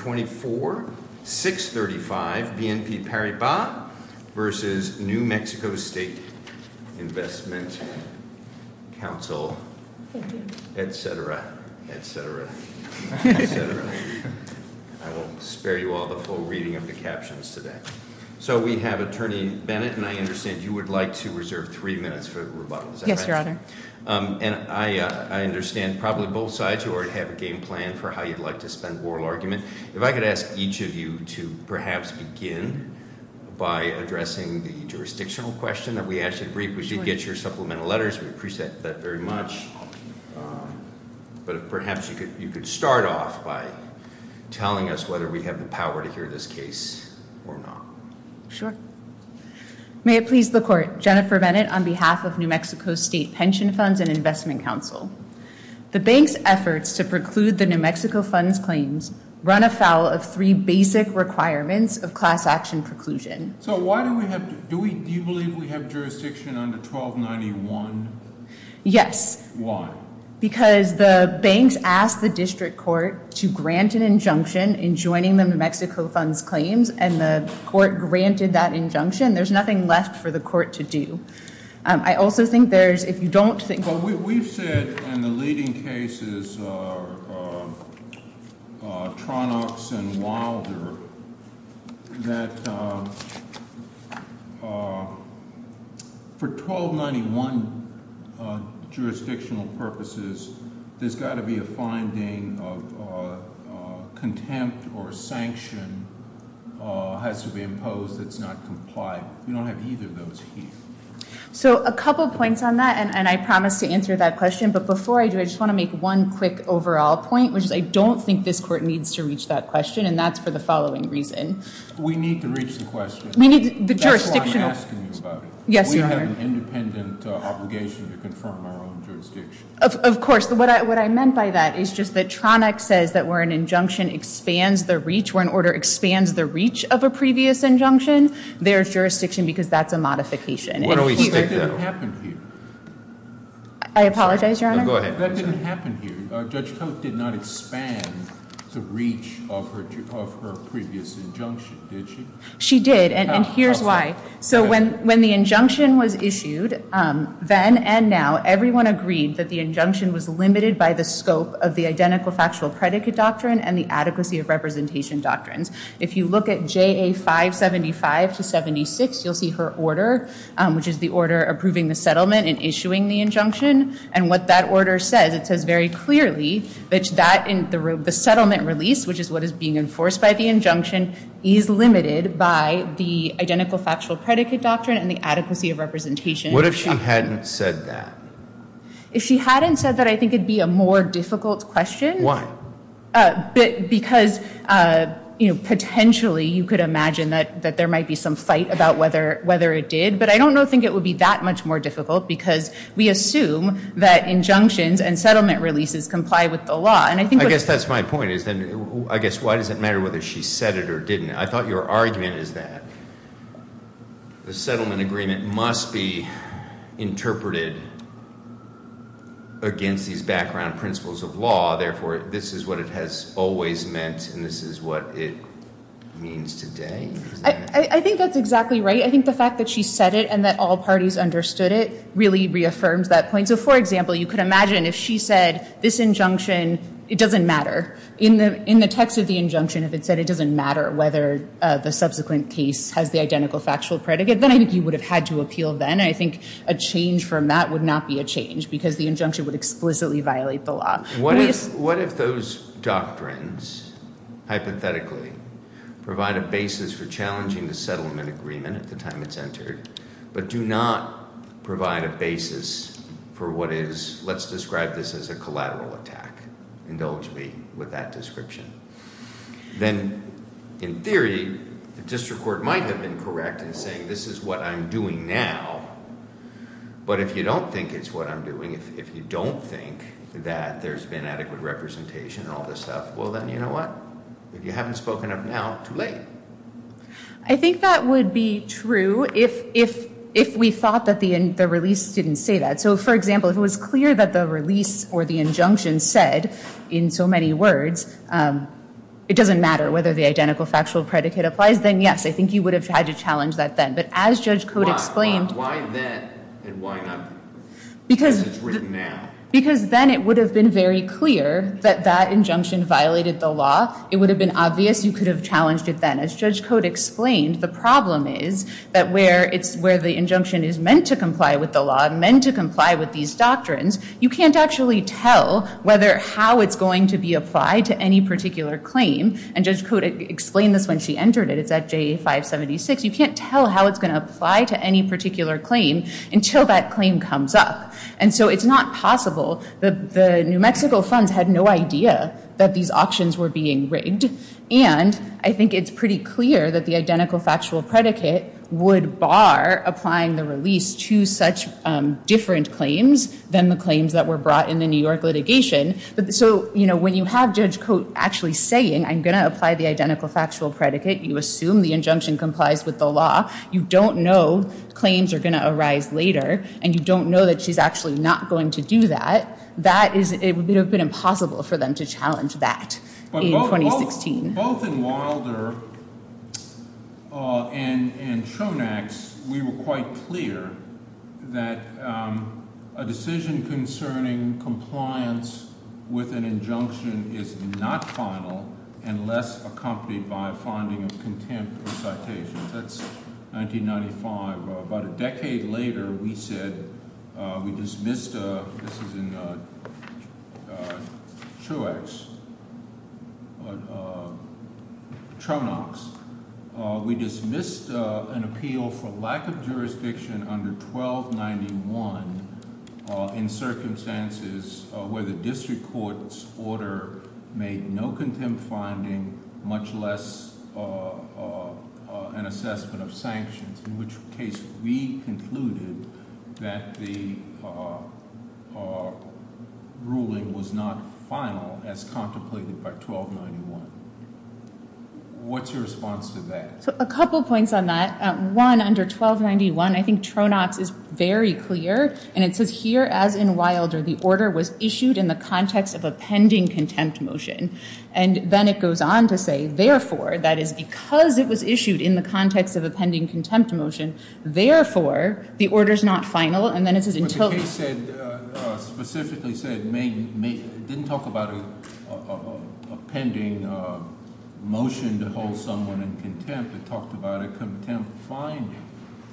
24-635 BNP Paribas v. New Mexico State Investment Council, etc., etc., etc. I won't spare you all the full reading of the captions today. So we have Attorney Bennett, and I understand you would like to reserve three minutes for rebuttal. Is that right? Yes, Your Honor. And I understand probably both sides you already have a game plan for how you'd like to spend the oral argument. If I could ask each of you to perhaps begin by addressing the jurisdictional question that we asked you to brief. We did get your supplemental letters, we appreciate that very much, but perhaps you could start off by telling us whether we have the power to hear this case or not. Sure. May it please the Court. Jennifer Bennett on behalf of New Mexico State Pension Funds and Investment Council. The bank's efforts to preclude the New Mexico Funds claims run afoul of three basic requirements of class action preclusion. So why do we have to, do we, do you believe we have jurisdiction under 1291? Yes. Why? Because the banks asked the district court to grant an injunction in joining the New Mexico Funds claims, and the court granted that injunction. There's nothing left for the court to do. I also think there's, if you don't think... We've said in the leading cases, Tronox and Wilder, that for 1291 jurisdictional purposes, there's got to be a finding of contempt or sanction has to be imposed that's not compliant. We don't have either of those here. So a couple points on that, and I promise to answer that question, but before I do, I just want to make one quick overall point, which is I don't think this court needs to reach that question, and that's for the following reason. We need to reach the question. We need the jurisdictional... That's why I'm asking you about it. Yes, Your Honor. We have an independent obligation to confirm our own jurisdiction. Of course. What I meant by that is just that Tronox says that where an injunction expands the reach, where an order expands the reach of a previous injunction, there's jurisdiction because that's a modification. That didn't happen here. I apologize, Your Honor. No, go ahead. That didn't happen here. Judge Koch did not expand the reach of her previous injunction, did she? She did, and here's why. So when the injunction was issued, then and now, everyone agreed that the injunction was limited by the scope of the identical factual predicate doctrine and the adequacy of representation doctrines. If you look at JA 575 to 76, you'll see her order, which is the order approving the settlement and issuing the injunction, and what that order says, it says very clearly that the settlement release, which is what is being enforced by the injunction, is limited by the identical factual predicate doctrine and the adequacy of representation. What if she hadn't said that? If she hadn't said that, I think it would be a more difficult question. Why? Because potentially you could imagine that there might be some fight about whether it did, but I don't think it would be that much more difficult because we assume that injunctions and settlement releases comply with the law. I guess that's my point. I guess why does it matter whether she said it or didn't? I thought your argument is that the settlement agreement must be interpreted against these background principles of law. Therefore, this is what it has always meant and this is what it means today. I think that's exactly right. I think the fact that she said it and that all parties understood it really reaffirms that point. For example, you could imagine if she said this injunction, it doesn't matter. In the text of the injunction, if it said it doesn't matter whether the subsequent case has the identical factual predicate, then I think you would have had to appeal then. I think a change from that would not be a change because the injunction would explicitly violate the law. What if those doctrines, hypothetically, provide a basis for challenging the settlement agreement at the time it's entered, but do not provide a basis for what is, let's describe this as a collateral attack. Indulge me with that description. Then, in theory, the district court might have been correct in saying this is what I'm doing now, but if you don't think it's what I'm doing, if you don't think that there's been adequate representation and all this stuff, well, then you know what? If you haven't spoken up now, too late. I think that would be true if we thought that the release didn't say that. For example, if it was clear that the release or the injunction said, in so many words, it doesn't matter whether the identical factual predicate applies, then yes, I think you would have had to challenge that then. But as Judge Cote explained Why then and why not because it's written now? Because then it would have been very clear that that injunction violated the law. It would have been obvious. You could have challenged it then. As Judge Cote explained, the problem is that where the injunction is meant to comply with the law, meant to comply with these doctrines, you can't actually tell whether how it's going to be applied to any particular claim. And Judge Cote explained this when she entered it. It's at JA 576. You can't tell how it's going to apply to any particular claim until that claim comes up. And so it's not possible. The New Mexico funds had no idea that these auctions were being rigged. And I think it's pretty clear that the identical factual predicate would bar applying the release to such different claims than the claims that were brought in the New York litigation. So when you have Judge Cote actually saying, I'm going to apply the identical factual predicate, you assume the injunction complies with the law. You don't know claims are going to arise later. And you don't know that she's actually not going to do that. That is, it would have been impossible for them to challenge that in 2016. So both in Wilder and Chonax, we were quite clear that a decision concerning compliance with an injunction is not final unless accompanied by a finding of contempt or citation. That's 1995. About a decade later, we said, we dismissed, this is in Chonax, we dismissed an appeal for lack of jurisdiction under 1291 in circumstances where the district court's order made no contempt finding, much less an assessment of sanctions, in which case we concluded that the ruling was not final as contemplated by 1291. What's your response to that? So a couple points on that. One, under 1291, I think Chonax is very clear. And it says here, as in Wilder, the order was issued in the context of a pending contempt motion. And then it goes on to say, therefore, that is because it was issued in the context of a pending contempt motion. Therefore, the order's not final. And then it says, until. But the case said, specifically said, didn't talk about a pending motion to hold someone in contempt. It talked about a contempt finding,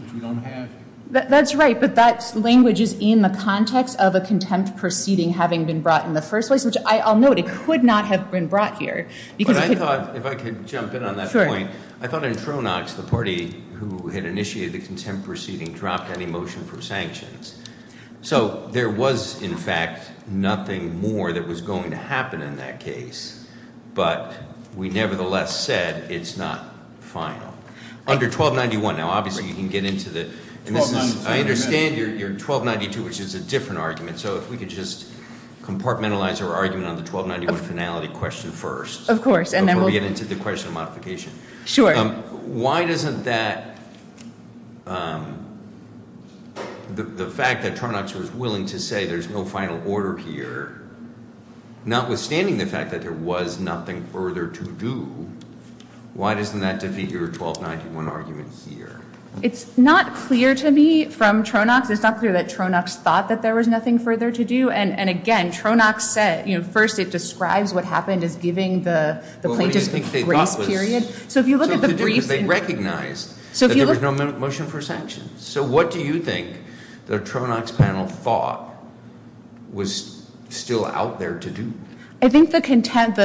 which we don't have here. That's right. But that language is in the context of a contempt proceeding having been brought in the first place, which I'll note, it could not have been brought here. But I thought, if I could jump in on that point. I thought in Chonax, the party who had initiated the contempt proceeding dropped any motion for sanctions. So there was, in fact, nothing more that was going to happen in that case. But we nevertheless said it's not final. Under 1291, now, obviously, you can get into the. I understand you're 1292, which is a different argument. So if we could just compartmentalize our argument on the 1291 finality question first. Of course. Before we get into the question of modification. Why doesn't that, the fact that Chonax was willing to say there's no final order here, notwithstanding the fact that there was nothing further to do, why doesn't that defeat your 1291 argument here? It's not clear to me from Chonax. It's not clear that Chonax thought that there was nothing further to do. And again, Chonax said, first, it describes what happened as giving the plaintiffs a grace period. So if you look at the briefs. They recognized that there was no motion for sanctions. So what do you think the Chonax panel thought was still out there to do? I think the contempt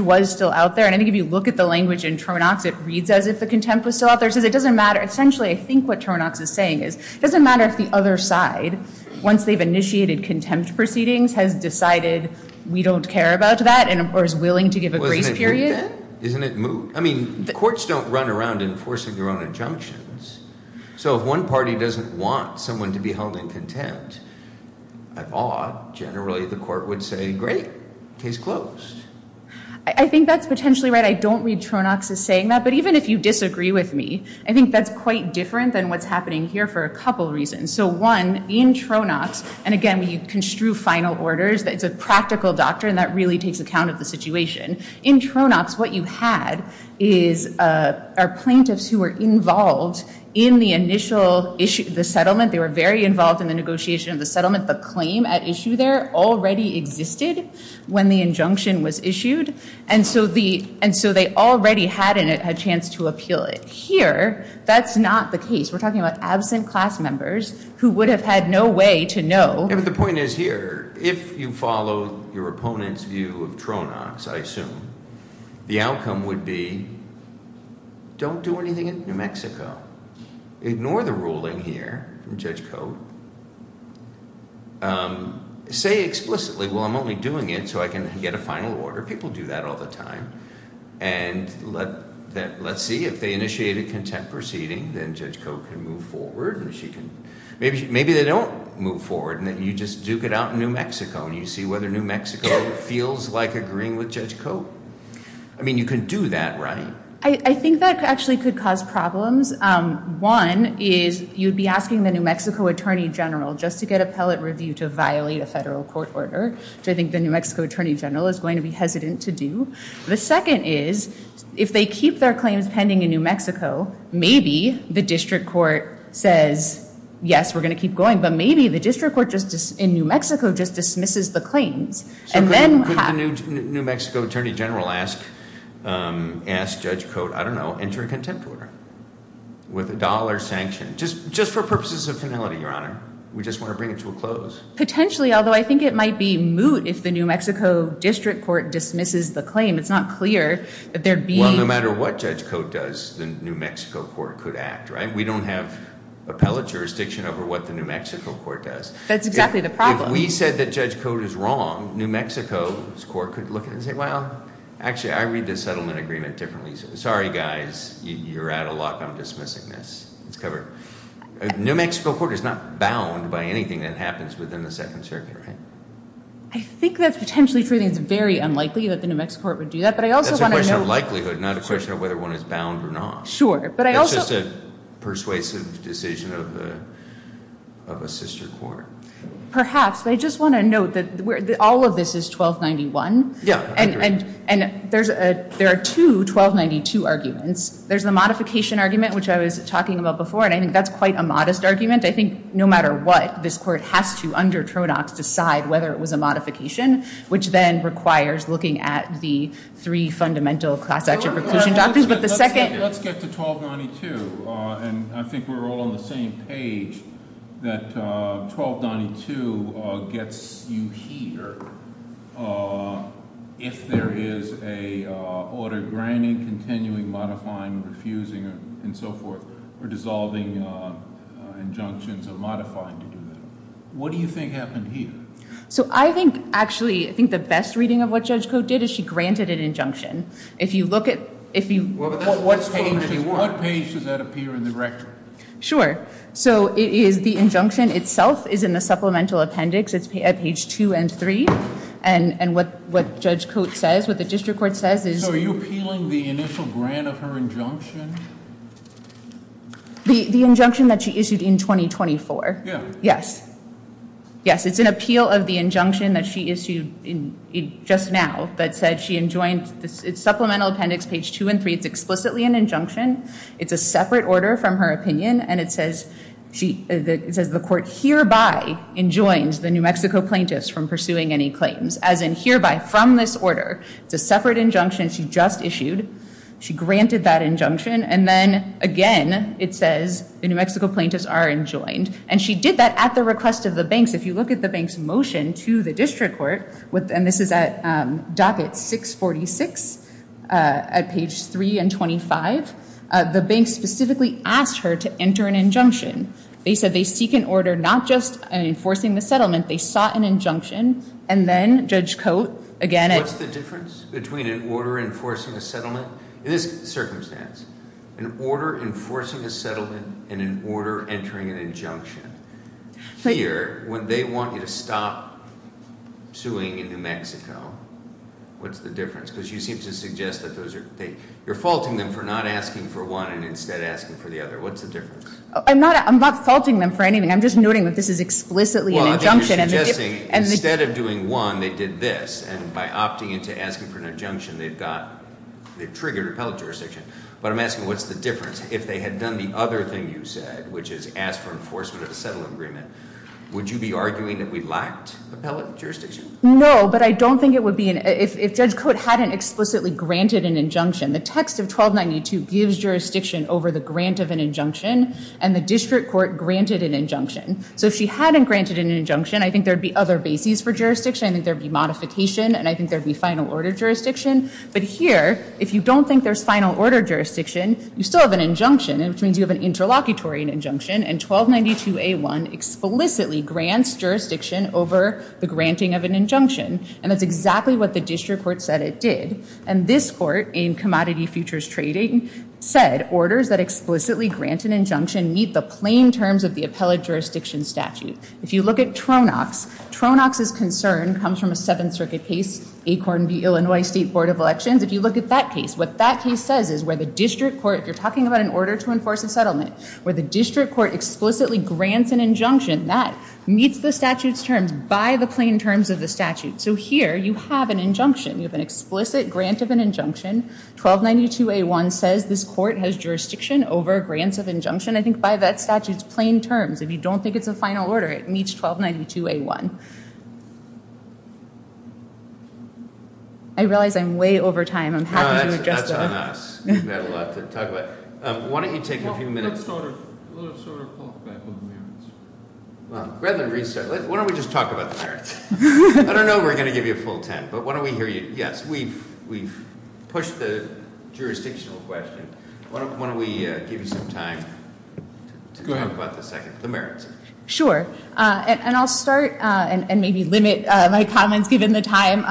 was still out there. And I think if you look at the language in Chonax, it reads as if the contempt was still out there. It says it doesn't matter. Essentially, I think what Chonax is saying is it doesn't matter if the other side, once they've initiated contempt proceedings, has decided we don't care about that or is willing to give a grace period. Well, isn't it moot then? Isn't it moot? I mean, courts don't run around enforcing their own injunctions. So if one party doesn't want someone to be held in contempt, I thought generally the court would say, great, case closed. I think that's potentially right. I don't read Chonax as saying that. But even if you disagree with me, I think that's quite different than what's happening here for a couple reasons. So one, in Chonax, and again, when you construe final orders, it's a practical doctrine that really takes account of the situation. In Chonax, what you had are plaintiffs who were involved in the initial issue of the settlement. They were very involved in the negotiation of the settlement. The claim at issue there already existed when the injunction was issued. And so they already had a chance to appeal it. Here, that's not the case. We're talking about absent class members who would have had no way to know. The point is here, if you follow your opponent's view of Chonax, I assume, the outcome would be, don't do anything in New Mexico. Ignore the ruling here from Judge Code. Say explicitly, well, I'm only doing it so I can get a final order. People do that all the time. And let's see. If they initiate a contempt proceeding, then Judge Code can move forward. Maybe they don't move forward, and then you just duke it out in New Mexico, and you see whether New Mexico feels like agreeing with Judge Code. I mean, you can do that, right? I think that actually could cause problems. One is you'd be asking the New Mexico Attorney General just to get appellate review to violate a federal court order, which I think the New Mexico Attorney General is going to be hesitant to do. The second is, if they keep their claims pending in New Mexico, maybe the district court says, yes, we're going to keep going, but maybe the district court in New Mexico just dismisses the claims. Could the New Mexico Attorney General ask Judge Code, I don't know, enter a contempt order with a dollar sanction, just for purposes of finality, Your Honor? We just want to bring it to a close. Potentially, although I think it might be moot if the New Mexico district court dismisses the claim. It's not clear that there'd be... Well, no matter what Judge Code does, the New Mexico court could act, right? We don't have appellate jurisdiction over what the New Mexico court does. That's exactly the problem. If we said that Judge Code is wrong, New Mexico's court could look at it and say, well, actually, I read the settlement agreement differently. Sorry, guys, you're out of luck. I'm dismissing this. It's covered. New Mexico court is not bound by anything that happens within the Second Circuit, right? I think that's potentially true. I think it's very unlikely that the New Mexico court would do that, but I also want to know... That's a question of likelihood, not a question of whether one is bound or not. Sure, but I also... It's just a persuasive decision of a sister court. Perhaps, but I just want to note that all of this is 1291. Yeah, I agree. And there are two 1292 arguments. There's the modification argument, which I was talking about before, and I think that's quite a modest argument. I think no matter what, this court has to, under Tronox, decide whether it was a modification, which then requires looking at the three fundamental class action preclusion doctrines. But the second... Let's get to 1292, and I think we're all on the same page, that 1292 gets you here if there is an order granting, continuing, modifying, refusing, and so forth, or dissolving injunctions or modifying to do that. What do you think happened here? So I think, actually, I think the best reading of what Judge Cote did is she granted an injunction. If you look at... What page does that appear in the record? Sure. So it is the injunction itself is in the supplemental appendix. It's at page two and three. And what Judge Cote says, what the district court says is... The injunction that she issued in 2024. Yeah. Yes. Yes, it's an appeal of the injunction that she issued just now that said she enjoined... It's supplemental appendix page two and three. It's explicitly an injunction. It's a separate order from her opinion, and it says the court hereby enjoins the New Mexico plaintiffs from pursuing any claims, as in hereby, from this order. It's a separate injunction she just issued. She granted that injunction. And then, again, it says the New Mexico plaintiffs are enjoined. And she did that at the request of the banks. If you look at the banks' motion to the district court, and this is at docket 646 at page three and 25, the banks specifically asked her to enter an injunction. They said they seek an order not just enforcing the settlement. They sought an injunction. And then Judge Cote, again... What's the difference between an order enforcing a settlement? In this circumstance, an order enforcing a settlement and an order entering an injunction. Here, when they want you to stop suing in New Mexico, what's the difference? Because you seem to suggest that those are... You're faulting them for not asking for one and instead asking for the other. What's the difference? I'm not faulting them for anything. I'm just noting that this is explicitly an injunction. Well, I think you're suggesting instead of doing one, they did this, and by opting into asking for an injunction, they've triggered appellate jurisdiction. But I'm asking what's the difference if they had done the other thing you said, which is ask for enforcement of a settlement agreement. Would you be arguing that we lacked appellate jurisdiction? No, but I don't think it would be... If Judge Cote hadn't explicitly granted an injunction, the text of 1292 gives jurisdiction over the grant of an injunction, and the district court granted an injunction. So if she hadn't granted an injunction, I think there would be other bases for jurisdiction. I think there would be modification, and I think there would be final order jurisdiction. But here, if you don't think there's final order jurisdiction, you still have an injunction, which means you have an interlocutory injunction, and 1292A1 explicitly grants jurisdiction over the granting of an injunction, and that's exactly what the district court said it did. And this court in Commodity Futures Trading said, orders that explicitly grant an injunction meet the plain terms of the appellate jurisdiction statute. If you look at Tronox, Tronox's concern comes from a Seventh Circuit case, Acorn v. Illinois State Board of Elections. If you look at that case, what that case says is where the district court, if you're talking about an order to enforce a settlement, where the district court explicitly grants an injunction, that meets the statute's terms by the plain terms of the statute. So here, you have an injunction. You have an explicit grant of an injunction. 1292A1 says this court has jurisdiction over grants of injunction, I think by that statute's plain terms. If you don't think it's a final order, it meets 1292A1. I realize I'm way over time. I'm happy to adjust. No, that's enough. We've got a lot to talk about. Why don't you take a few minutes? Let's sort of talk back on the merits. Rather than restart, why don't we just talk about the merits? I don't know if we're going to give you a full ten, but why don't we hear you? Yes, we've pushed the jurisdictional question. Why don't we give you some time to talk about the second? The merits. And I'll start and maybe limit my comments, given the time,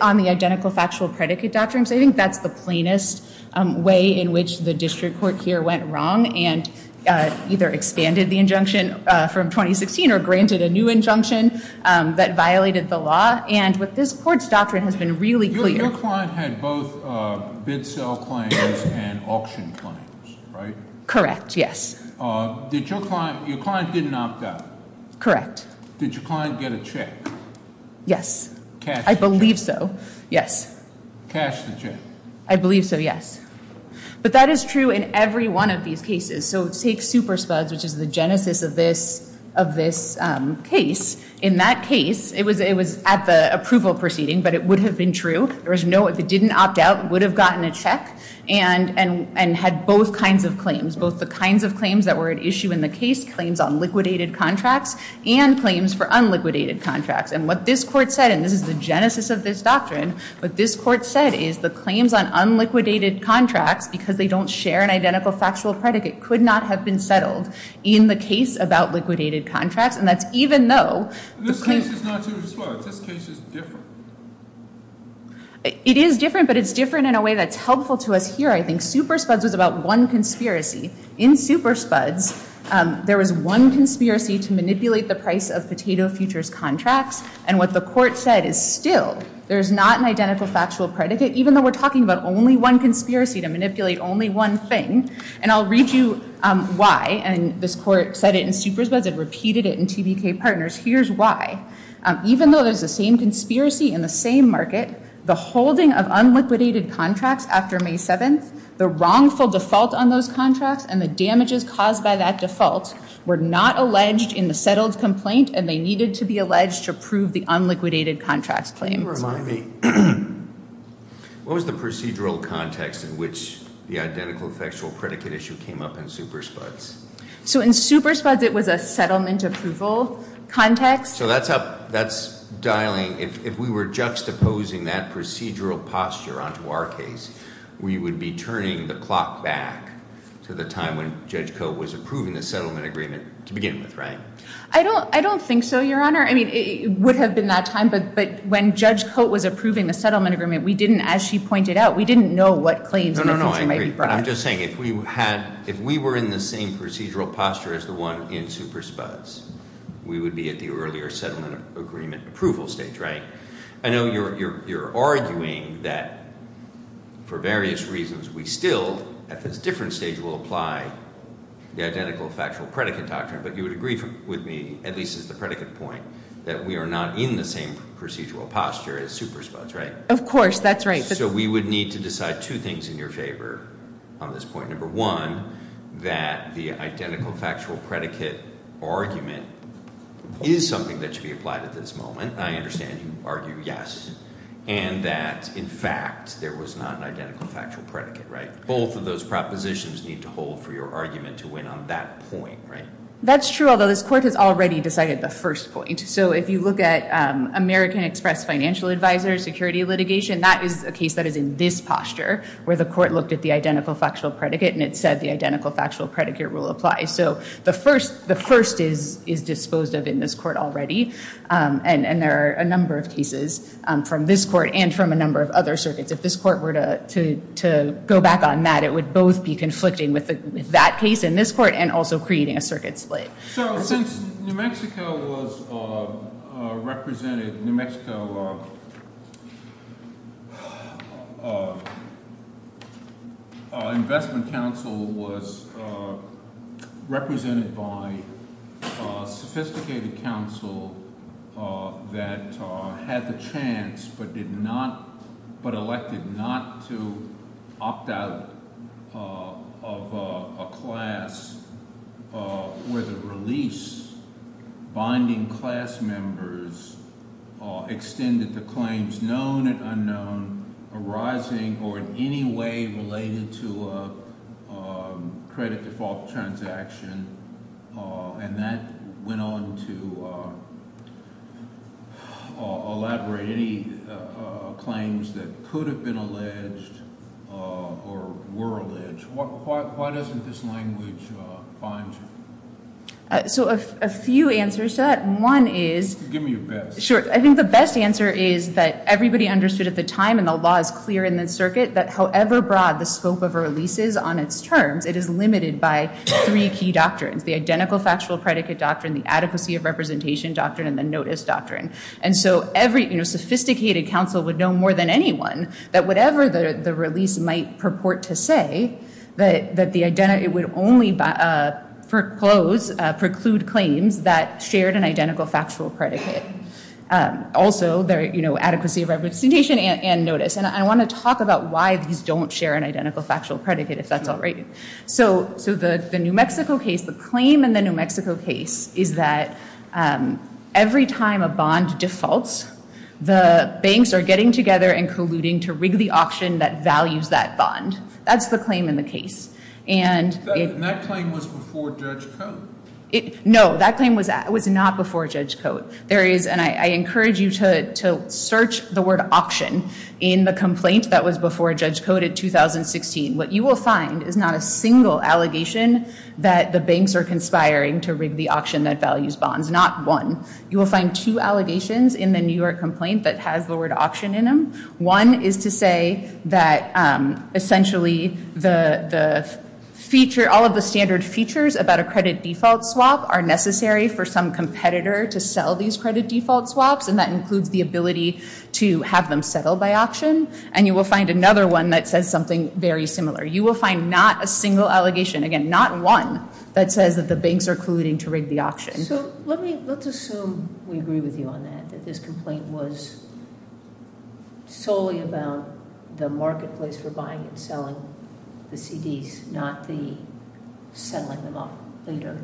on the identical factual predicate doctrine. I think that's the plainest way in which the district court here went wrong and either expanded the injunction from 2016 or granted a new injunction that violated the law. And with this court's doctrine has been really clear. Your client had both bid-sell claims and auction claims, right? Correct, yes. Your client didn't opt out? Did your client get a check? Yes. I believe so, yes. Cashed the check? I believe so, yes. But that is true in every one of these cases. So take Super Spuds, which is the genesis of this case. In that case, it was at the approval proceeding, but it would have been true. There was no, if it didn't opt out, would have gotten a check and had both kinds of claims. It was both the kinds of claims that were at issue in the case, claims on liquidated contracts, and claims for unliquidated contracts. And what this court said, and this is the genesis of this doctrine, what this court said is the claims on unliquidated contracts, because they don't share an identical factual predicate, could not have been settled in the case about liquidated contracts. And that's even though the claim- This case is not too disparate. This case is different. It is different, but it's different in a way that's helpful to us here, I think. Super Spuds was about one conspiracy. In Super Spuds, there was one conspiracy to manipulate the price of Potato Futures contracts. And what the court said is still, there's not an identical factual predicate, even though we're talking about only one conspiracy to manipulate only one thing. And I'll read you why. And this court said it in Super Spuds. It repeated it in TBK Partners. Here's why. Even though there's the same conspiracy in the same market, the holding of unliquidated contracts after May 7th, the wrongful default on those contracts and the damages caused by that default were not alleged in the settled complaint and they needed to be alleged to approve the unliquidated contracts claim. Can you remind me, what was the procedural context in which the identical factual predicate issue came up in Super Spuds? So in Super Spuds, it was a settlement approval context. So that's up, that's dialing, if we were juxtaposing that procedural posture onto our case, we would be turning the clock back to the time when Judge Coate was approving the settlement agreement to begin with, right? I don't think so, Your Honor. I mean, it would have been that time, but when Judge Coate was approving the settlement agreement, we didn't, as she pointed out, we didn't know what claims in the future might be brought. I'm just saying, if we were in the same procedural posture as the one in Super Spuds, we would be at the earlier settlement agreement approval stage, right? I know you're arguing that, for various reasons, we still, at this different stage, will apply the identical factual predicate doctrine, but you would agree with me, at least as the predicate point, that we are not in the same procedural posture as Super Spuds, right? Of course, that's right. So we would need to decide two things in your favor on this point. Number one, that the identical factual predicate argument is something that should be applied at this moment. I understand you argue yes, and that, in fact, there was not an identical factual predicate, right? Both of those propositions need to hold for your argument to win on that point, right? That's true, although this Court has already decided the first point. So if you look at American Express Financial Advisor security litigation, that is a case that is in this posture, where the Court looked at the identical factual predicate and it said the identical factual predicate rule applies. So the first is disposed of in this Court already, and there are a number of cases from this Court and from a number of other circuits. If this Court were to go back on that, it would both be conflicting with that case in this Court and also creating a circuit split. So since New Mexico was represented – New Mexico Investment Council was represented by a sophisticated council that had the chance but did not – but elected not to opt out of a class where the release binding class members extended to claims known and unknown arising or in any way related to a credit default transaction, and that went on to elaborate any claims that could have been alleged or were alleged, why doesn't this language bind you? So a few answers to that. One is – Give me your best. Sure. I think the best answer is that everybody understood at the time and the law is clear in this circuit that however broad the scope of a release is on its terms, it is limited by three key doctrines. The identical factual predicate doctrine, the adequacy of representation doctrine, and the notice doctrine. And so every sophisticated council would know more than anyone that whatever the release might purport to say, that the identity would only foreclose, preclude claims that shared an identical factual predicate. Also, adequacy of representation and notice. And I want to talk about why these don't share an identical factual predicate if that's all right. So the New Mexico case, the claim in the New Mexico case is that every time a bond defaults, the banks are getting together and colluding to rig the auction that values that bond. That's the claim in the case. And that claim was before judge code. No, that claim was not before judge code. There is, and I encourage you to search the word auction in the complaint that was before judge code in 2016. What you will find is not a single allegation that the banks are conspiring to rig the auction that values bonds. Not one. You will find two allegations in the New York complaint that has the word auction in them. One is to say that essentially all of the standard features about a credit default swap are necessary for some competitor to sell these credit default swaps. And that includes the ability to have them settle by auction. And you will find another one that says something very similar. You will find not a single allegation, again, not one that says that the banks are colluding to rig the auction. So let's assume we agree with you on that, that this complaint was solely about the marketplace for buying and selling the CDs, not the settling them off later.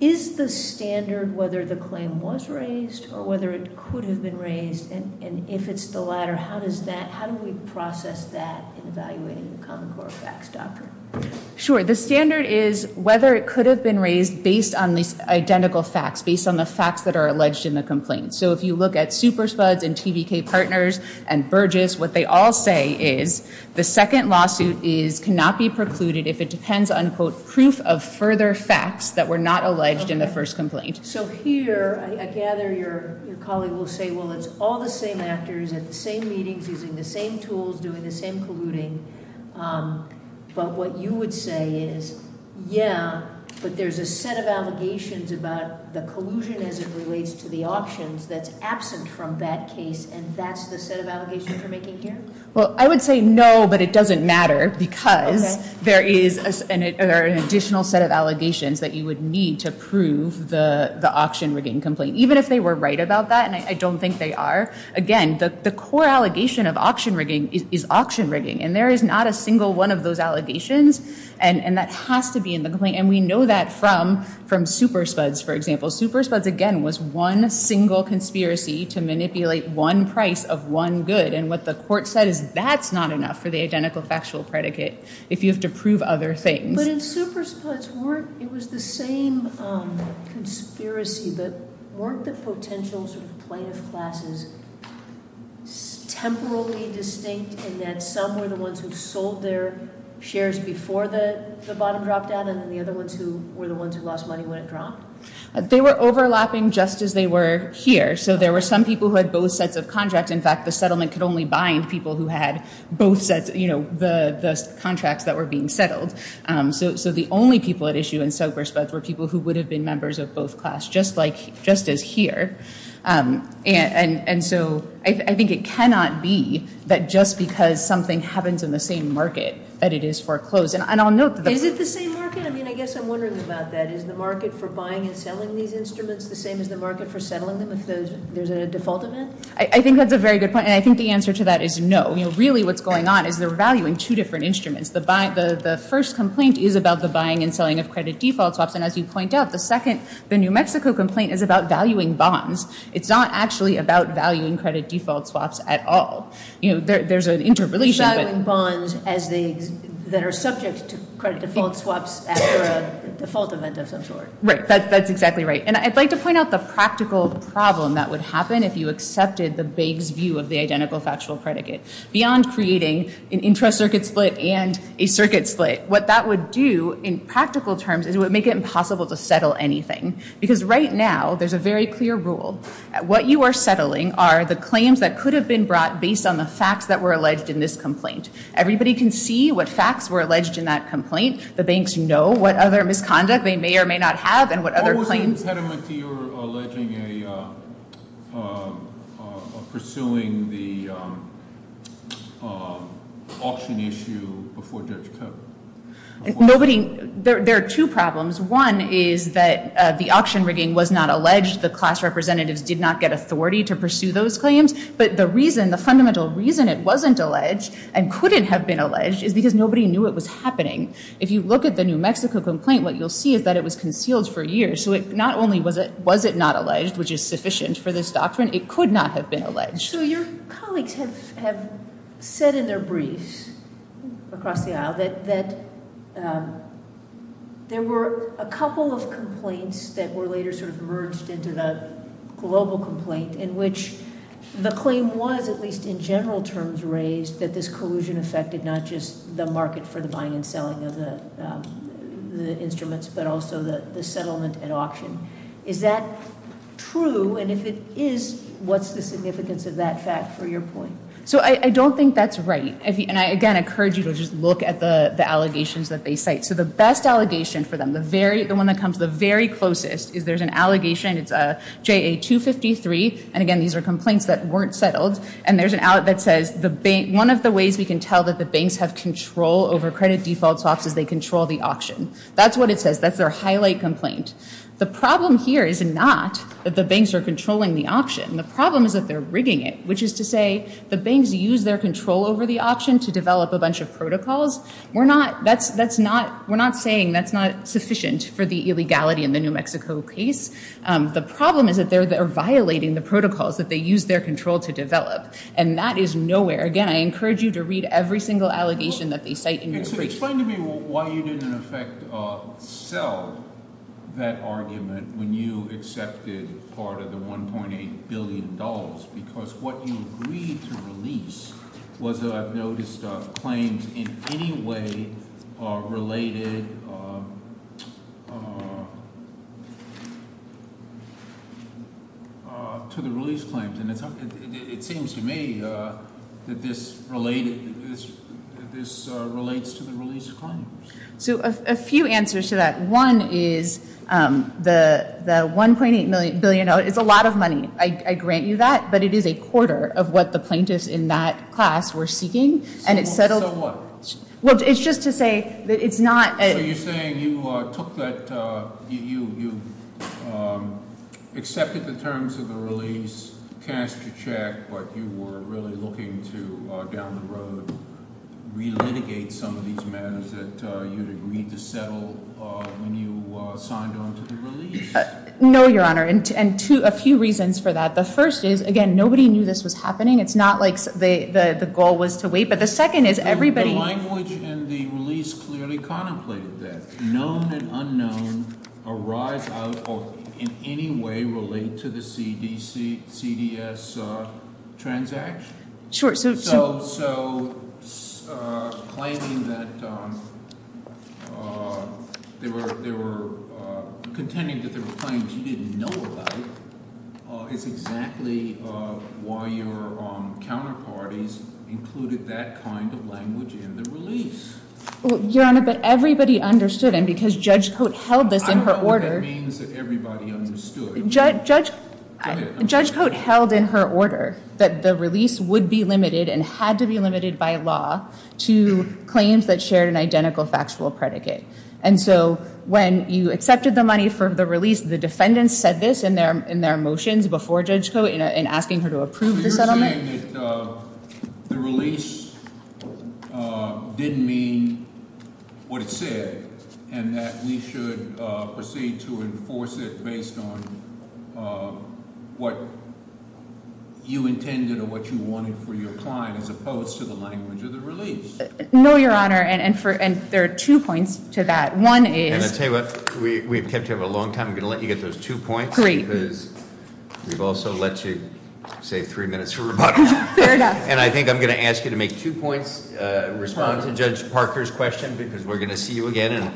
Is the standard whether the claim was raised or whether it could have been raised? And if it's the latter, how do we process that in evaluating the Common Core Facts Doctrine? Sure. The standard is whether it could have been raised based on these identical facts, based on the facts that are alleged in the complaint. So if you look at Super Spuds and TBK Partners and Burgess, what they all say is the second lawsuit cannot be precluded if it depends on, quote, proof of further facts that were not alleged in the first complaint. So here, I gather your colleague will say, well, it's all the same actors at the same meetings, using the same tools, doing the same colluding. But what you would say is, yeah, but there's a set of allegations about the collusion as it relates to the auctions that's absent from that case. And that's the set of allegations you're making here? Well, I would say no, but it doesn't matter. Because there is an additional set of allegations that you would need to prove the auction rigging complaint. Even if they were right about that, and I don't think they are, again, the core allegation of auction rigging is auction rigging. And there is not a single one of those allegations. And that has to be in the complaint. And we know that from Super Spuds, for example. Super Spuds, again, was one single conspiracy to manipulate one price of one good. And what the court said is that's not enough for the identical factual predicate if you have to prove other things. But in Super Spuds, it was the same conspiracy, but weren't the potential plaintiff classes temporally distinct in that some were the ones who sold their shares before the bottom dropped down and then the other ones who were the ones who lost money when it dropped? They were overlapping just as they were here. So there were some people who had both sets of contracts. In fact, the settlement could only bind people who had both sets, the contracts that were being settled. So the only people at issue in Super Spuds were people who would have been members of both class, just as here. And so I think it cannot be that just because something happens in the same market that it is foreclosed. And I'll note that the- Is it the same market? I mean, I guess I'm wondering about that. Is the market for buying and selling these instruments the same as the market for settling them if there's a default event? I think that's a very good point. And I think the answer to that is no. Really what's going on is they're valuing two different instruments. The first complaint is about the buying and selling of credit default swaps. And as you point out, the second, the New Mexico complaint, is about valuing bonds. It's not actually about valuing credit default swaps at all. There's an interrelation. Valuing bonds that are subject to credit default swaps after a default event of some sort. Right. That's exactly right. And I'd like to point out the practical problem that would happen if you accepted the bank's view of the identical factual predicate. Beyond creating an intra-circuit split and a circuit split, what that would do in practical terms is it would make it impossible to settle anything. Because right now, there's a very clear rule. What you are settling are the claims that could have been brought based on the facts that were alleged in this complaint. Everybody can see what facts were alleged in that complaint. The banks know what other misconduct they may or may not have and what other claims- Is there an impediment to your pursuing the auction issue before Judge Koepp? There are two problems. One is that the auction rigging was not alleged. The class representatives did not get authority to pursue those claims. But the fundamental reason it wasn't alleged and couldn't have been alleged is because nobody knew it was happening. If you look at the New Mexico complaint, what you'll see is that it was concealed for years. So not only was it not alleged, which is sufficient for this doctrine, it could not have been alleged. So your colleagues have said in their briefs across the aisle that there were a couple of complaints that were later sort of merged into the global complaint in which the claim was, at least in general terms raised, that this collusion affected not just the market for the buying and selling of the instruments, but also the settlement and auction. Is that true? And if it is, what's the significance of that fact for your point? So I don't think that's right. And I, again, encourage you to just look at the allegations that they cite. So the best allegation for them, the one that comes the very closest, is there's an allegation. It's JA 253. And again, these are complaints that weren't settled. And there's an out that says, one of the ways we can tell that the banks have control over credit default swaps is they control the auction. That's what it says. That's their highlight complaint. The problem here is not that the banks are controlling the auction. The problem is that they're rigging it, which is to say the banks use their control over the auction to develop a bunch of protocols. We're not saying that's not sufficient for the illegality in the New Mexico case. The problem is that they're violating the protocols that they use their control to develop. And that is nowhere. Again, I encourage you to read every single allegation that they cite in your briefs. Can you explain to me why you didn't, in effect, sell that argument when you accepted part of the $1.8 billion? Because what you agreed to release was that I've noticed claims in any way related to the release claims. And it seems to me that this relates to the release of claims. So a few answers to that. One is the $1.8 billion is a lot of money. I grant you that. But it is a quarter of what the plaintiffs in that class were seeking. So what? Well, it's just to say that it's not a- So you're saying you accepted the terms of the release, cast your check, but you were really looking to, down the road, re-litigate some of these matters that you'd agreed to settle when you signed on to the release? No, Your Honor. And a few reasons for that. The first is, again, nobody knew this was happening. It's not like the goal was to wait. But the second is, everybody- The language in the release clearly contemplated that. Known and unknown arise out of, in any way, related to the CDS transaction. Sure. So claiming that they were contending that there were claims you didn't know about is exactly why your counterparties included that kind of language in the release. Your Honor, but everybody understood. And because Judge Coate held this in her order- Judge Coate held in her order that the release would be limited and had to be limited by law to claims that shared an identical factual predicate. And so when you accepted the money for the release, the defendants said this in their motions before Judge Coate in asking her to approve the settlement. So you're saying that the release didn't mean what it said and that we should proceed to enforce it based on what you intended or what you wanted for your client as opposed to the language of the release. No, Your Honor. And there are two points to that. One is- And I'll tell you what, we've kept you up a long time. I'm going to let you get those two points. Great. Because we've also let you, say, three minutes for rebuttal. Fair enough. And I think I'm going to ask you to make two points, respond to Judge Parker's question, because we're going to see you again. And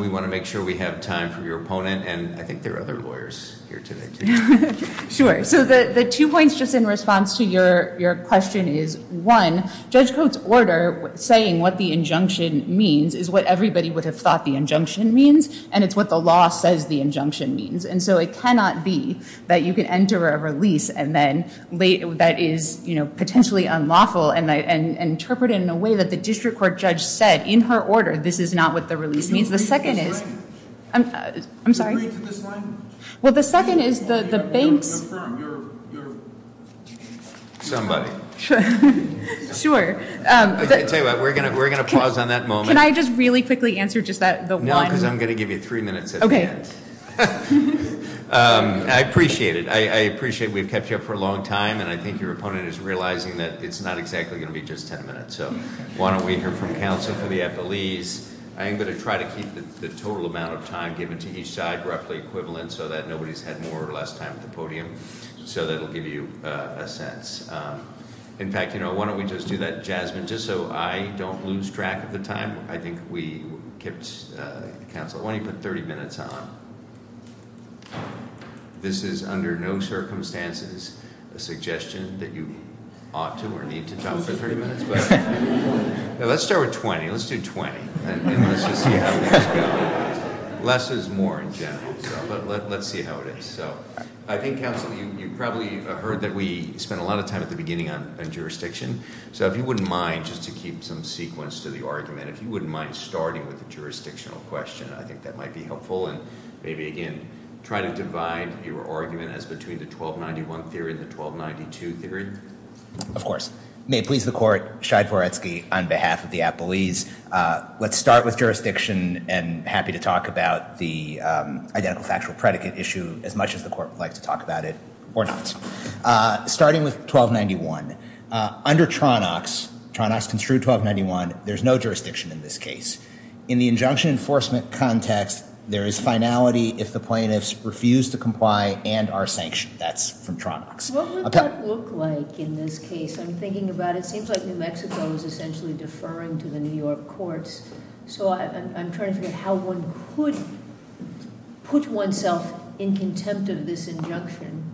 we want to make sure we have time for your opponent. And I think there are other lawyers here today, too. Sure. So the two points, just in response to your question, is one, Judge Coate's order saying what the injunction means is what everybody would have thought the injunction means. And it's what the law says the injunction means. And so it cannot be that you can enter a release that is potentially unlawful and interpret it in a way that the district court judge said, in her order, this is not what the release means. The second is- I'm sorry? Can you read to this line? Well, the second is the bank's- You're firm. You're- Somebody. Sure. I'll tell you what, we're going to pause on that moment. Can I just really quickly answer just the one? No, because I'm going to give you three minutes at the end. OK. I appreciate it. I appreciate we've kept you up for a long time. And I think your opponent is realizing that it's not exactly going to be just 10 minutes. So why don't we hear from counsel for the appellees. I am going to try to keep the total amount of time given to each side roughly equivalent so that nobody's had more or less time at the podium. So that'll give you a sense. In fact, why don't we just do that jasmine, just so I don't lose track of the time. I think we kept counsel- Why don't you put 30 minutes on? This is under no circumstances a suggestion that you ought to or need to talk for 30 minutes. Let's start with 20. Let's do 20. And let's just see how this goes. Less is more in general. But let's see how it is. I think, counsel, you probably heard that we spent a lot of time at the beginning on jurisdiction. So if you wouldn't mind, just to keep some sequence to the argument, if you wouldn't mind starting with the jurisdictional question, I think that might be helpful. And maybe, again, try to divide your argument as between the 1291 theory and the 1292 theory. Of course. May it please the court, Shai Voretsky, on behalf of the appellees, let's start with jurisdiction and happy to talk about the identical factual predicate issue as much as the court would like to talk about it or not. Starting with 1291, under Tronox, Tronox construed 1291, there's no jurisdiction in this case. In the injunction enforcement context, there is finality if the plaintiffs refuse to comply and are sanctioned. That's from Tronox. What would that look like in this case? I'm thinking about it seems like New Mexico is essentially deferring to the New York courts. So I'm trying to figure out how one could put oneself in contempt of this injunction.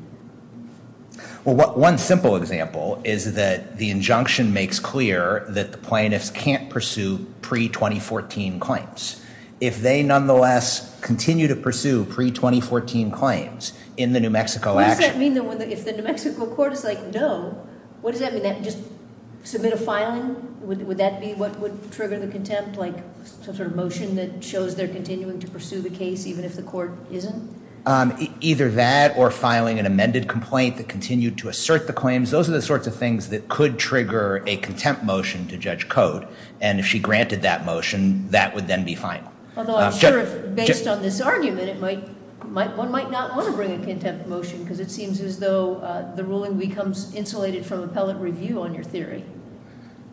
Well, one simple example is that the injunction makes clear that the plaintiffs can't pursue pre-2014 claims. If they nonetheless continue to pursue pre-2014 claims in the New Mexico action. What does that mean if the New Mexico court is like, no? What does that mean? Just submit a filing? Would that be what would trigger the contempt, like some sort of motion that shows they're continuing to pursue the case even if the court isn't? Either that or filing an amended complaint that continued to assert the claims. Those are the sorts of things that could trigger a contempt motion to judge code. And if she granted that motion, that would then be final. Although I'm sure based on this argument, that it might, one might not want to bring a contempt motion because it seems as though the ruling becomes insulated from appellate review on your theory.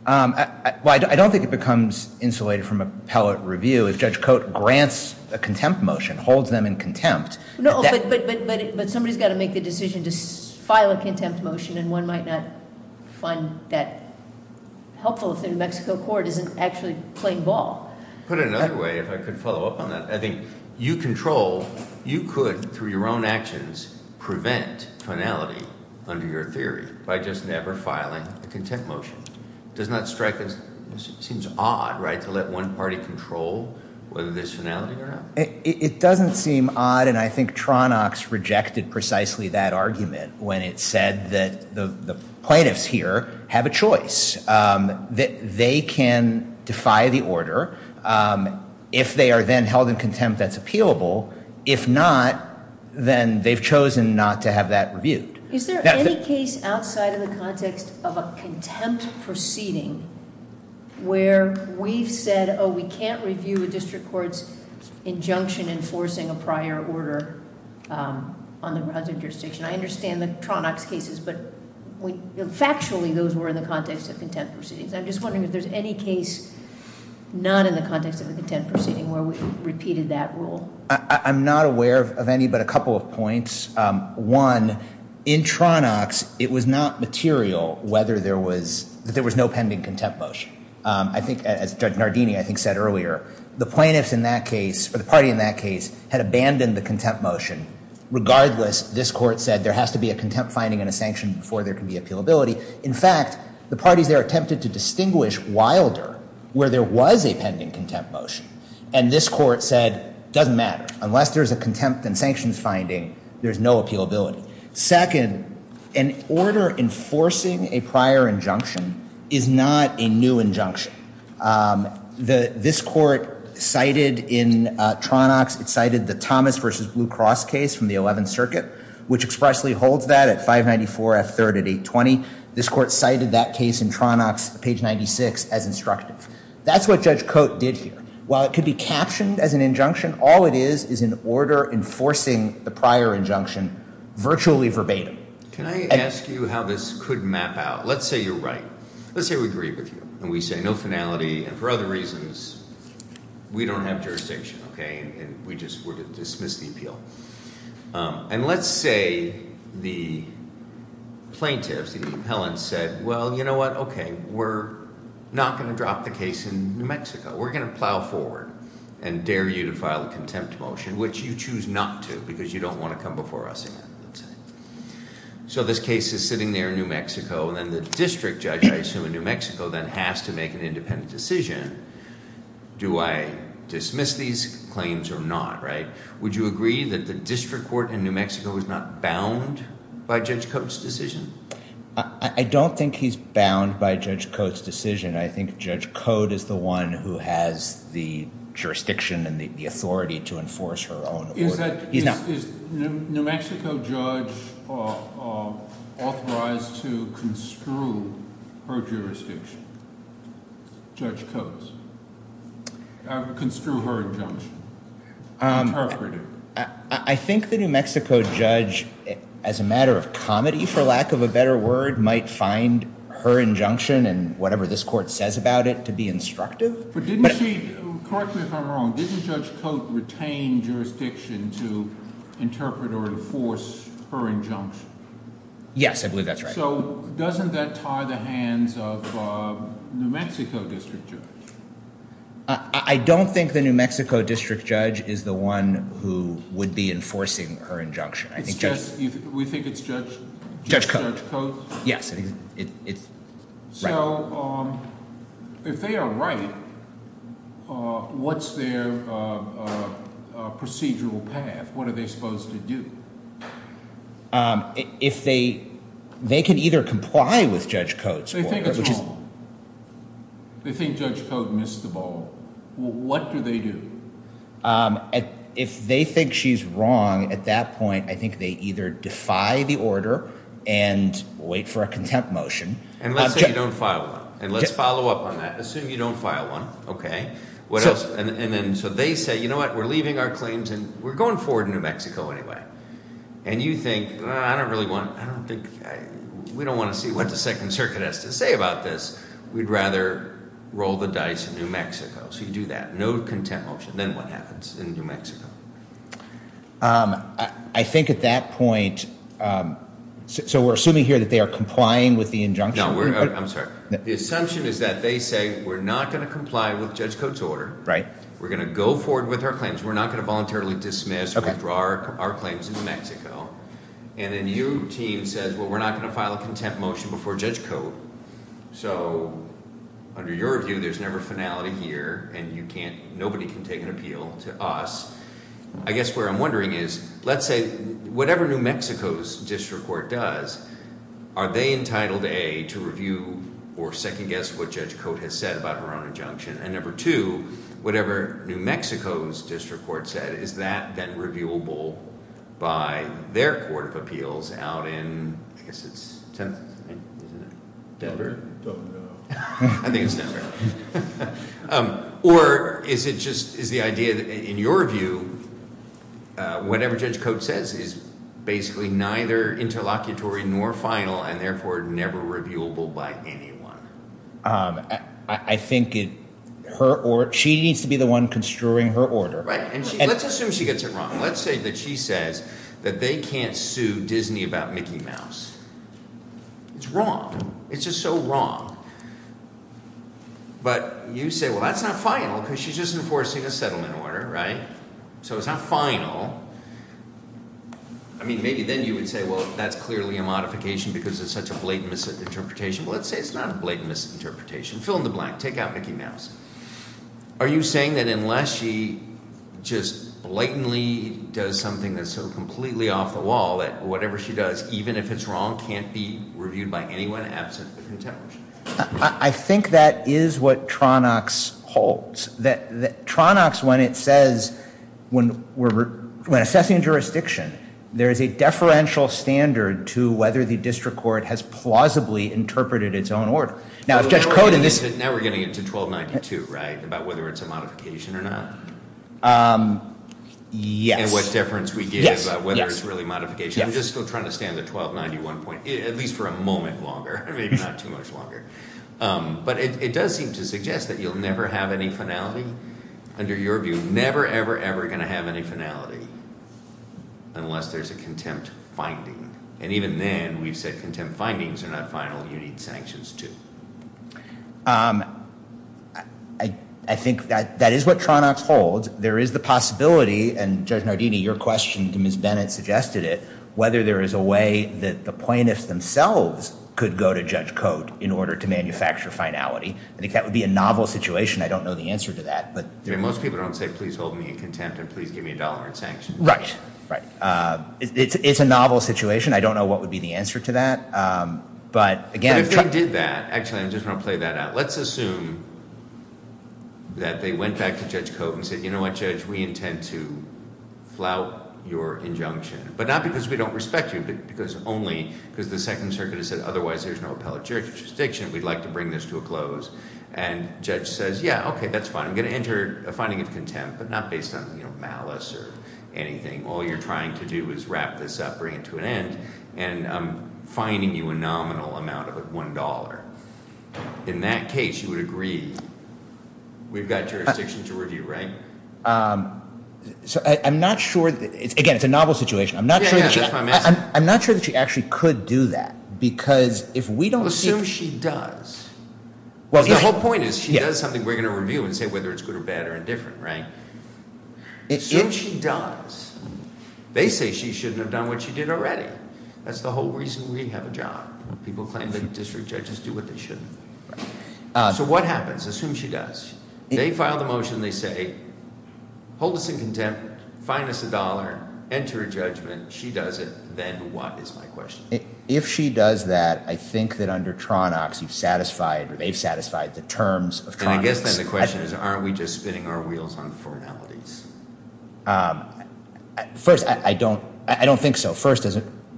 Well, I don't think it becomes insulated from appellate review if Judge Cote grants a contempt motion, holds them in contempt. No, but somebody's got to make the decision to file a contempt motion and one might not find that helpful if the New Mexico court isn't actually playing ball. Put it another way, if I could follow up on that. I think you control, you could, through your own actions, prevent finality under your theory by just never filing a contempt motion. Does not strike as, seems odd, right, to let one party control whether there's finality or not? It doesn't seem odd and I think Tronox rejected precisely that argument when it said that the plaintiffs here have a choice. They can defy the order if they are then held in contempt that's appealable. If not, then they've chosen not to have that reviewed. Is there any case outside of the context of a contempt proceeding where we've said, oh, we can't review a district court's injunction enforcing a prior order on the grounds of jurisdiction? I understand the Tronox cases, but factually those were in the context of contempt proceedings. I'm just wondering if there's any case not in the context of a contempt proceeding where we've repeated that rule. I'm not aware of any, but a couple of points. One, in Tronox, it was not material whether there was, that there was no pending contempt motion. I think, as Judge Nardini, I think, said earlier, the plaintiffs in that case, or the party in that case, had abandoned the contempt motion. Regardless, this court said there has to be a contempt finding and a sanction before there can be appealability. In fact, the parties there attempted to distinguish wilder where there was a pending contempt motion. And this court said, doesn't matter. Unless there's a contempt and sanctions finding, there's no appealability. Second, an order enforcing a prior injunction is not a new injunction. This court cited in Tronox, it cited the Thomas v. Blue Cross case from the 11th Circuit, which expressly holds that at 594 F. 3rd at 820. This court cited that case in Tronox, page 96, as instructive. That's what Judge Cote did here. While it could be captioned as an injunction, all it is is an order enforcing the prior injunction virtually verbatim. Can I ask you how this could map out? Let's say you're right. Let's say we agree with you, and we say no finality. And for other reasons, we don't have jurisdiction, okay? And we just were to dismiss the appeal. And let's say the plaintiffs, the appellants said, well, you know what? Okay, we're not going to drop the case in New Mexico. We're going to plow forward and dare you to file a contempt motion, which you choose not to because you don't want to come before us again. So this case is sitting there in New Mexico, and then the district judge, I assume, in New Mexico, then has to make an independent decision. Do I dismiss these claims or not, right? Would you agree that the district court in New Mexico is not bound by Judge Cote's decision? I don't think he's bound by Judge Cote's decision. I think Judge Cote is the one who has the jurisdiction and the authority to enforce her own order. Is New Mexico judge authorized to construe her jurisdiction, Judge Cote's, construe her injunction, interpret it? I think the New Mexico judge, as a matter of comedy for lack of a better word, might find her injunction and whatever this court says about it to be instructive. But didn't she, correct me if I'm wrong, didn't Judge Cote retain jurisdiction to interpret or enforce her injunction? Yes, I believe that's right. So doesn't that tie the hands of the New Mexico district judge? I don't think the New Mexico district judge is the one who would be enforcing her injunction. We think it's Judge Cote. Yes. So if they are right, what's their procedural path? What are they supposed to do? If they can either comply with Judge Cote's order. They think it's wrong. They think Judge Cote missed the ball. What do they do? If they think she's wrong at that point, I think they either defy the order and wait for a contempt motion. And let's say you don't file one. And let's follow up on that. Assume you don't file one. Okay. What else? And then so they say, you know what, we're leaving our claims and we're going forward to New Mexico anyway. And you think, we don't want to see what the Second Circuit has to say about this. We'd rather roll the dice in New Mexico. So you do that. No contempt motion. Then what happens in New Mexico? I think at that point, so we're assuming here that they are complying with the injunction? No, I'm sorry. The assumption is that they say we're not going to comply with Judge Cote's order. Right. We're going to go forward with our claims. We're not going to voluntarily dismiss or withdraw our claims in New Mexico. And then your team says, well, we're not going to file a contempt motion before Judge Cote. So under your view, there's never finality here. And nobody can take an appeal to us. I guess where I'm wondering is, let's say whatever New Mexico's district court does, are they entitled, A, to review or second guess what Judge Cote has said about her own injunction? And number two, whatever New Mexico's district court said, is that then reviewable by their court of appeals out in, I guess it's... Denver? I think it's Denver. Or is it just... is the idea that in your view, whatever Judge Cote says is basically neither interlocutory nor final and therefore never reviewable by anyone? I think she needs to be the one construing her order. Right. And let's assume she gets it wrong. Let's say that she says that they can't sue Disney about Mickey Mouse. It's wrong. It's just so wrong. But you say, well, that's not final because she's just enforcing a settlement order, right? So it's not final. I mean maybe then you would say, well, that's clearly a modification because it's such a blatant misinterpretation. Well, let's say it's not a blatant misinterpretation. Fill in the blank. Take out Mickey Mouse. Are you saying that unless she just blatantly does something that's so completely off the wall that whatever she does, even if it's wrong, can't be reviewed by anyone absent the contempt? I think that is what Tronox holds. Tronox, when it says, when assessing jurisdiction, there is a deferential standard to whether the district court has plausibly interpreted its own order. Now, if Judge Codin is— Now we're getting into 1292, right, about whether it's a modification or not? Yes. And what deference we give about whether it's really modification. I'm just still trying to stay on the 1291 point, at least for a moment longer, maybe not too much longer. But it does seem to suggest that you'll never have any finality. Under your view, never, ever, ever going to have any finality unless there's a contempt finding. And even then, we've said contempt findings are not final. You need sanctions, too. I think that is what Tronox holds. There is the possibility, and Judge Nardini, your question to Ms. Bennett suggested it, whether there is a way that the plaintiffs themselves could go to Judge Cote in order to manufacture finality. I think that would be a novel situation. I don't know the answer to that. Most people don't say, please hold me in contempt and please give me a dollar in sanctions. Right, right. It's a novel situation. I don't know what would be the answer to that. But again— But if they did that—actually, I just want to play that out. Let's assume that they went back to Judge Cote and said, you know what, Judge, we intend to flout your injunction. But not because we don't respect you, but because only—because the Second Circuit has said otherwise there's no appellate jurisdiction. We'd like to bring this to a close. And Judge says, yeah, okay, that's fine. I'm going to enter a finding of contempt, but not based on malice or anything. All you're trying to do is wrap this up, bring it to an end, and I'm fining you a nominal amount of $1. In that case, you would agree we've got jurisdiction to review, right? So I'm not sure—again, it's a novel situation. I'm not sure that she actually could do that because if we don't see— Well, assume she does. The whole point is she does something we're going to review and say whether it's good or bad or indifferent, right? Assume she does. They say she shouldn't have done what she did already. That's the whole reason we have a job. People claim that district judges do what they shouldn't. So what happens? Assume she does. They file the motion. They say hold us in contempt, fine us $1, enter a judgment. She does it. Then what is my question? If she does that, I think that under Tronox you've satisfied or they've satisfied the terms of Tronox. And I guess then the question is aren't we just spinning our wheels on formalities? First, I don't think so. First,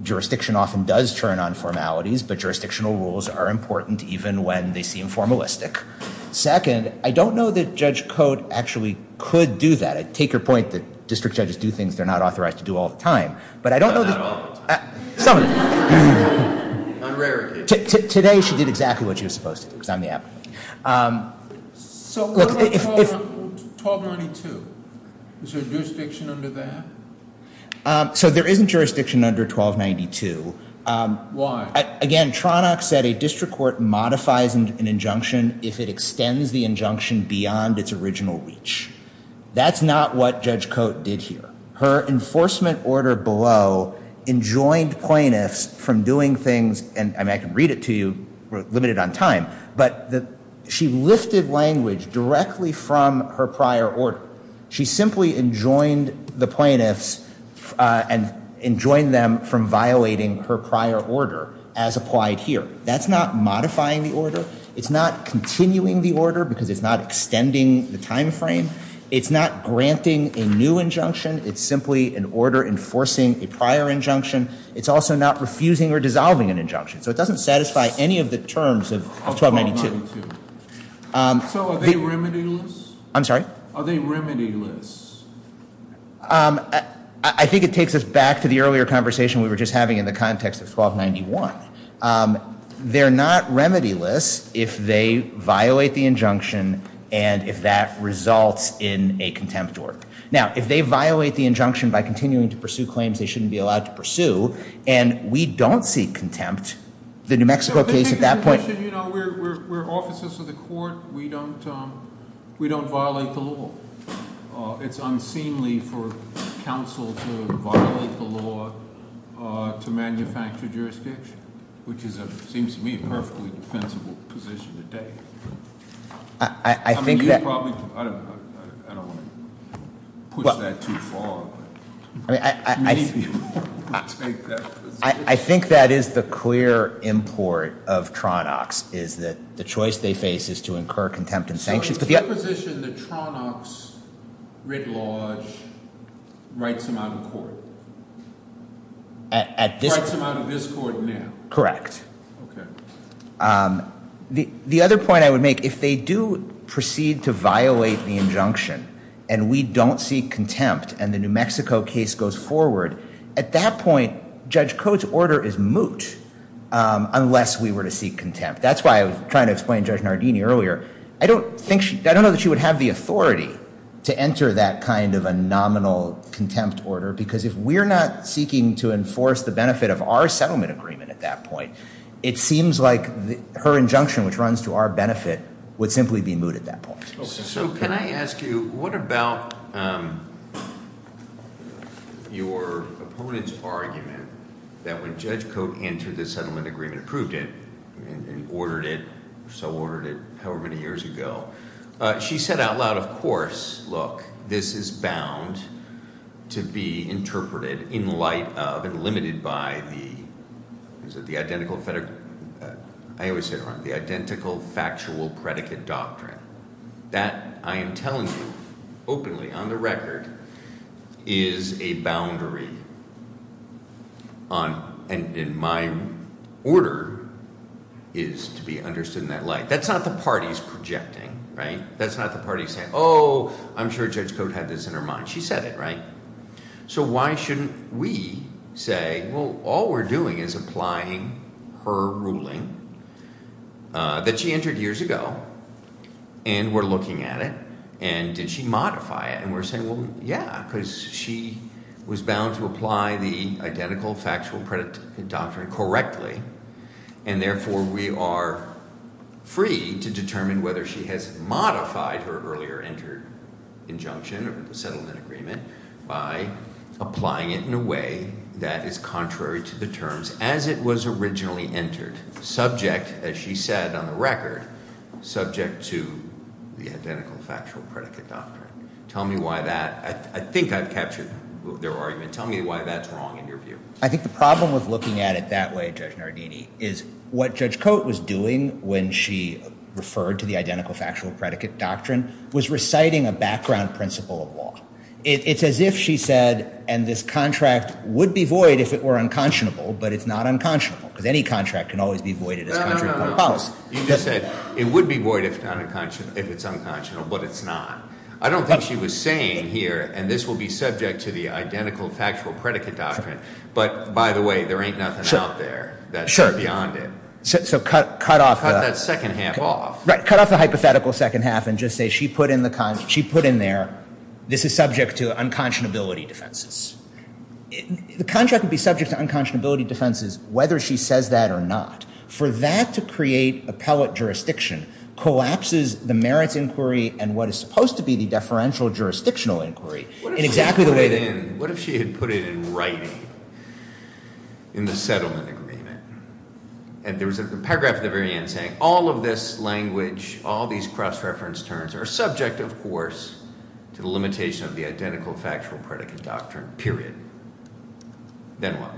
jurisdiction often does turn on formalities, but jurisdictional rules are important even when they seem formalistic. Second, I don't know that Judge Cote actually could do that. I take her point that district judges do things they're not authorized to do all the time, but I don't know that— Not all the time. On rarity. Today she did exactly what she was supposed to because I'm the applicant. So what about 1292? Is there jurisdiction under that? So there isn't jurisdiction under 1292. Why? Again, Tronox said a district court modifies an injunction if it extends the injunction beyond its original reach. That's not what Judge Cote did here. Her enforcement order below enjoined plaintiffs from doing things, and I can read it to you, we're limited on time, but she lifted language directly from her prior order. She simply enjoined the plaintiffs and enjoined them from violating her prior order as applied here. That's not modifying the order. It's not continuing the order because it's not extending the time frame. It's not granting a new injunction. It's simply an order enforcing a prior injunction. It's also not refusing or dissolving an injunction, so it doesn't satisfy any of the terms of 1292. So are they remedialists? I'm sorry? Are they remedialists? I think it takes us back to the earlier conversation we were just having in the context of 1291. They're not remedialists if they violate the injunction and if that results in a contempt work. Now, if they violate the injunction by continuing to pursue claims they shouldn't be allowed to pursue and we don't see contempt, the New Mexico case at that point- We're officers of the court. We don't violate the law. It's unseemly for counsel to violate the law to manufacture jurisdiction, which seems to me a perfectly defensible position to take. I think that- I don't want to push that too far. Many people would take that position. I think that is the clear import of Tronox is that the choice they face is to incur contempt and sanctions. So it's your position that Tronox, writ large, writes them out of court? Writes them out of this court now? Correct. Okay. The other point I would make, if they do proceed to violate the injunction and we don't see contempt and the New Mexico case goes forward, at that point Judge Cote's order is moot unless we were to seek contempt. That's why I was trying to explain Judge Nardini earlier. I don't know that she would have the authority to enter that kind of a nominal contempt order because if we're not seeking to enforce the benefit of our settlement agreement at that point, it seems like her injunction, which runs to our benefit, would simply be moot at that point. So can I ask you, what about your opponent's argument that when Judge Cote entered the settlement agreement, approved it and ordered it or so ordered it however many years ago, she said out loud, of course, look, this is bound to be interpreted in light of and limited by the identical factual predicate doctrine. That, I am telling you openly on the record, is a boundary and my order is to be understood in that light. That's not the party's projecting. That's not the party saying, oh, I'm sure Judge Cote had this in her mind. She said it, right? So why shouldn't we say, well, all we're doing is applying her ruling that she entered years ago and we're looking at it and did she modify it? And we're saying, well, yeah, because she was bound to apply the identical factual predicate doctrine correctly and therefore we are free to determine whether she has modified her earlier entered injunction or the settlement agreement by applying it in a way that is contrary to the terms as it was originally entered, subject, as she said on the record, subject to the identical factual predicate doctrine. Tell me why that, I think I've captured their argument. Tell me why that's wrong in your view. I think the problem with looking at it that way, Judge Nardini, is what Judge Cote was doing when she referred to the identical factual predicate doctrine was reciting a background principle of law. It's as if she said, and this contract would be void if it were unconscionable, but it's not unconscionable because any contract can always be voided. You just said it would be void if it's unconscionable, but it's not. I don't think she was saying here, and this will be subject to the identical factual predicate doctrine, but by the way, there ain't nothing out there that's beyond it. So cut off the hypothetical second half and just say she put in there, this is subject to unconscionability defenses. The contract would be subject to unconscionability defenses whether she says that or not. For that to create appellate jurisdiction collapses the merits inquiry and what is supposed to be the deferential jurisdictional inquiry. What if she had put it in writing in the settlement agreement and there was a paragraph at the very end saying all of this language, all these cross-reference terms are subject, of course, to the limitation of the identical factual predicate doctrine, period. Then what?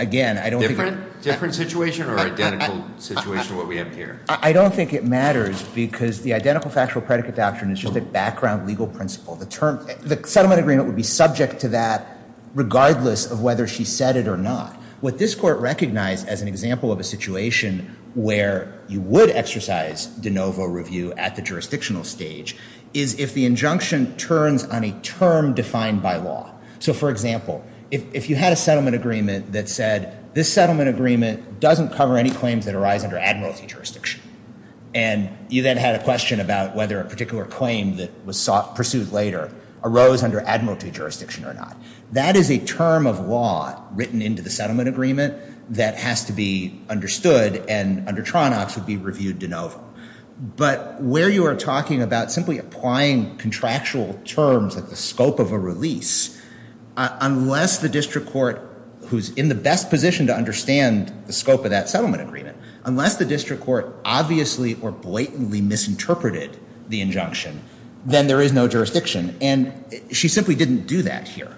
Again, I don't think... Different situation or identical situation what we have here? I don't think it matters because the identical factual predicate doctrine is just a background legal principle. The settlement agreement would be subject to that regardless of whether she said it or not. What this court recognized as an example of a situation where you would exercise de novo review at the jurisdictional stage is if the injunction turns on a term defined by law. So for example, if you had a settlement agreement that said, this settlement agreement doesn't cover any claims that arise under admiralty jurisdiction and you then had a question about whether a particular claim that was pursued later arose under admiralty jurisdiction or not. That is a term of law written into the settlement agreement that has to be understood and under Tronox would be reviewed de novo. But where you are talking about simply applying contractual terms at the scope of a release, unless the district court, who's in the best position to understand the scope of that settlement agreement, unless the district court obviously or blatantly misinterpreted the injunction, then there is no jurisdiction. And she simply didn't do that here.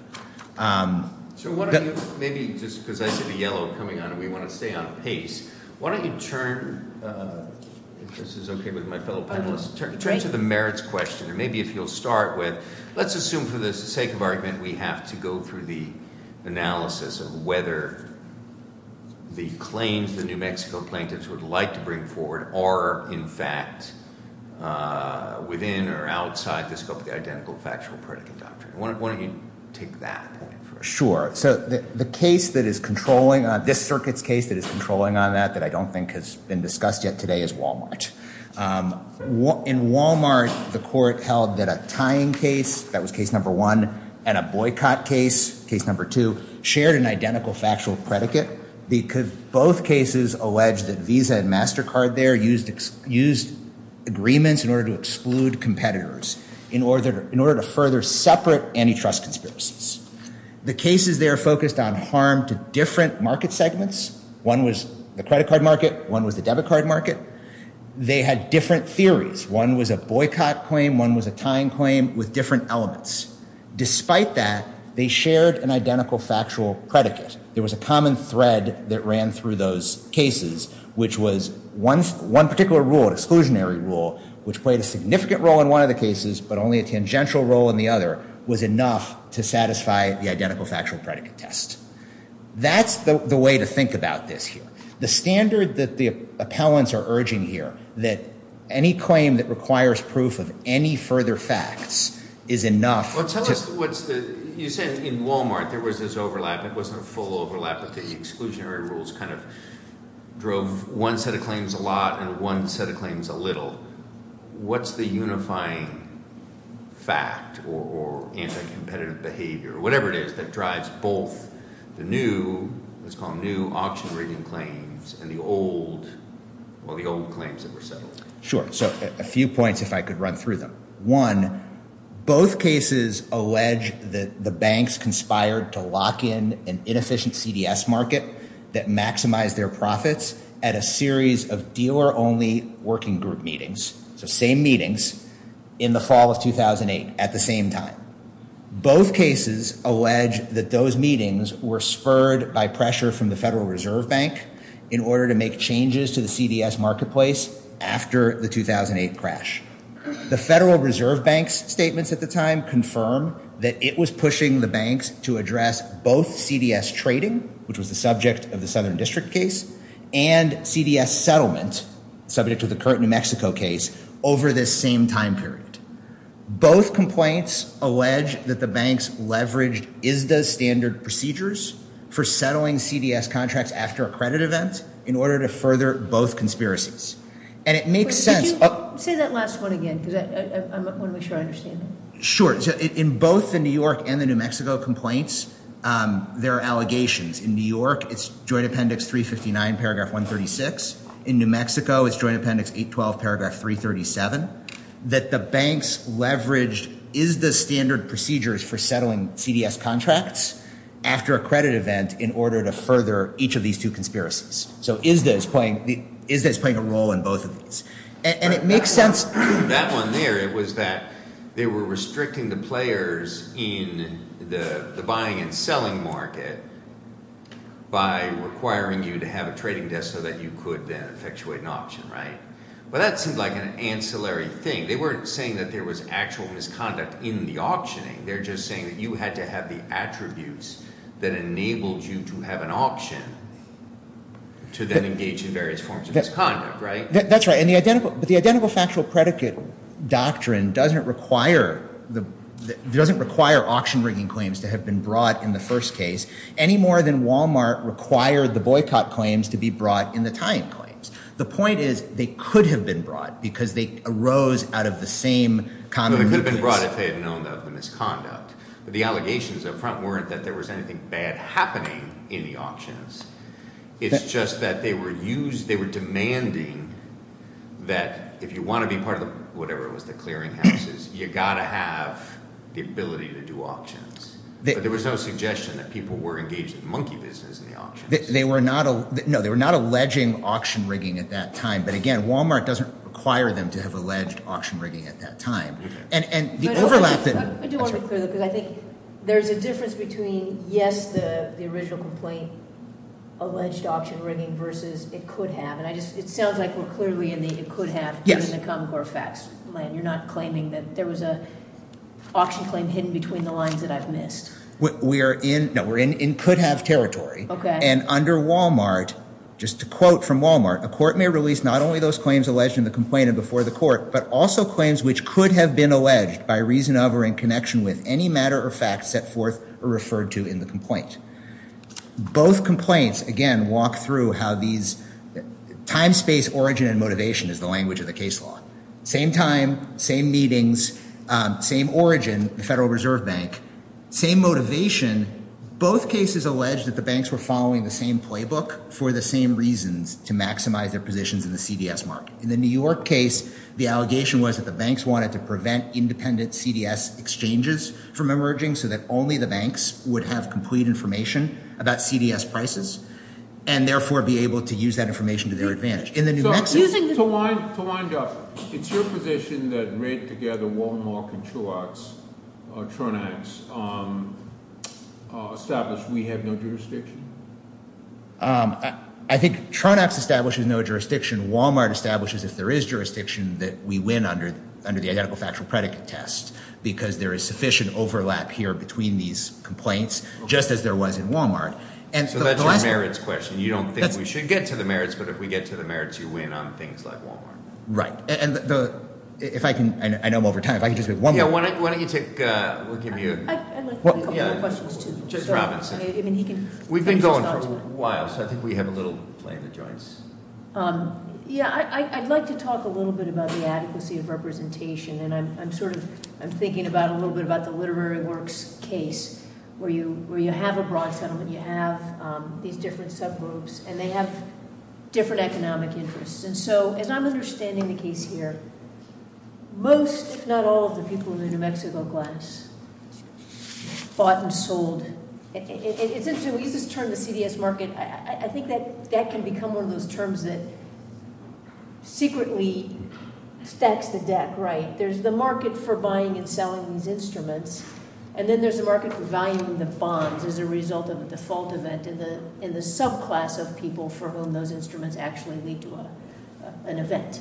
So why don't you, maybe just because I see the yellow coming on and we want to stay on pace, why don't you turn, if this is okay with my fellow panelists, turn to the merits question. Maybe if you'll start with, let's assume for the sake of argument, that we have to go through the analysis of whether the claims the New Mexico plaintiffs would like to bring forward are in fact within or outside the scope of the identical factual predicate doctrine. Why don't you take that? Sure. So the case that is controlling, this circuit's case that is controlling on that, that I don't think has been discussed yet today is Wal-Mart. In Wal-Mart, the court held that a tying case, that was case number one, and a boycott case, case number two, shared an identical factual predicate. Both cases alleged that Visa and MasterCard there used agreements in order to exclude competitors, in order to further separate antitrust conspiracies. The cases there focused on harm to different market segments. One was the credit card market, one was the debit card market. They had different theories. One was a boycott claim, one was a tying claim with different elements. Despite that, they shared an identical factual predicate. There was a common thread that ran through those cases, which was one particular rule, an exclusionary rule, which played a significant role in one of the cases, but only a tangential role in the other, was enough to satisfy the identical factual predicate test. That's the way to think about this here. The standard that the appellants are urging here, that any claim that requires proof of any further facts is enough to... Well, tell us what's the... You said in Walmart there was this overlap. It wasn't a full overlap, but the exclusionary rules kind of drove one set of claims a lot and one set of claims a little. What's the unifying fact or anti-competitive behavior, whatever it is, that drives both the new, let's call them new, auction-rigging claims, and the old claims that were settled? Sure. So a few points, if I could run through them. One, both cases allege that the banks conspired to lock in an inefficient CDS market that maximized their profits at a series of dealer-only working group meetings, so same meetings, in the fall of 2008 at the same time. Both cases allege that those meetings were spurred by pressure from the Federal Reserve Bank in order to make changes to the CDS marketplace after the 2008 crash. The Federal Reserve Bank's statements at the time confirm that it was pushing the banks to address both CDS trading, which was the subject of the Southern District case, and CDS settlement, subject to the current New Mexico case, over this same time period. Both complaints allege that the banks leveraged ISDA standard procedures for settling CDS contracts after a credit event in order to further both conspiracies. Say that last one again, because I want to make sure I understand it. Sure. In both the New York and the New Mexico complaints, there are allegations. In New York, it's Joint Appendix 359, paragraph 136. In New Mexico, it's Joint Appendix 812, paragraph 337, that the banks leveraged ISDA standard procedures for settling CDS contracts after a credit event in order to further each of these two conspiracies. So ISDA is playing a role in both of these. And it makes sense. That one there, it was that they were restricting the players in the buying and selling market by requiring you to have a trading desk so that you could then effectuate an auction, right? But that seemed like an ancillary thing. They weren't saying that there was actual misconduct in the auctioning. They're just saying that you had to have the attributes that enabled you to have an auction to then engage in various forms of misconduct, right? That's right. But the Identical Factual Predicate Doctrine doesn't require auction-rigging claims to have been brought in the first case any more than Walmart required the boycott claims to be brought in the tying claims. The point is they could have been brought because they arose out of the same common reasons. They could have been brought if they had known of the misconduct. But the allegations up front weren't that there was anything bad happening in the auctions. It's just that they were demanding that if you want to be part of the, whatever it was, the clearinghouses, you've got to have the ability to do auctions. But there was no suggestion that people were engaged in the monkey business in the auctions. No, they were not alleging auction-rigging at that time. But again, Walmart doesn't require them to have alleged auction-rigging at that time. I do want to be clear, though, because I think there's a difference between, yes, the original complaint, alleged auction-rigging, versus it could have. It sounds like we're clearly in the it could have in the Common Core Facts land. You're not claiming that there was an auction claim hidden between the lines that I've missed. No, we're in could-have territory. And under Walmart, just to quote from Walmart, a court may release not only those claims alleged in the complaint and before the court, but also claims which could have been alleged by reason of or in connection with any matter or fact set forth or referred to in the complaint. Both complaints, again, walk through how these time, space, origin, and motivation is the language of the case law. Same time, same meetings, same origin, the Federal Reserve Bank, same motivation, both cases allege that the banks were following the same playbook for the same reasons to maximize their positions in the CDS market. In the New York case, the allegation was that the banks wanted to prevent independent CDS exchanges from emerging so that only the banks would have complete information about CDS prices and, therefore, be able to use that information to their advantage. In the New Mexico... To wind up, it's your position that, right together, Walmart and Tronax establish we have no jurisdiction? I think Tronax establishes no jurisdiction. Walmart establishes, if there is jurisdiction, that we win under the identical factual predicate test because there is sufficient overlap here between these complaints, just as there was in Walmart. So that's your merits question. You don't think we should get to the merits, but if we get to the merits, you win on things like Walmart. Right. I know I'm over time. Why don't you take... I'd like to take a couple more questions, too. Ms. Robinson. We've been going for a while, so I think we have a little play in the joints. Yeah, I'd like to talk a little bit about the adequacy of representation, and I'm sort of thinking a little bit about the literary works case where you have a broad settlement, you have these different subgroups, and they have different economic interests. And so, as I'm understanding the case here, most, if not all, of the people in the New Mexico class bought and sold. We use this term, the CDS market. I think that that can become one of those terms that secretly stacks the deck right. There's the market for buying and selling these instruments, and then there's the market for valuing the bonds as a result of a default event in the subclass of people for whom those instruments actually lead to an event.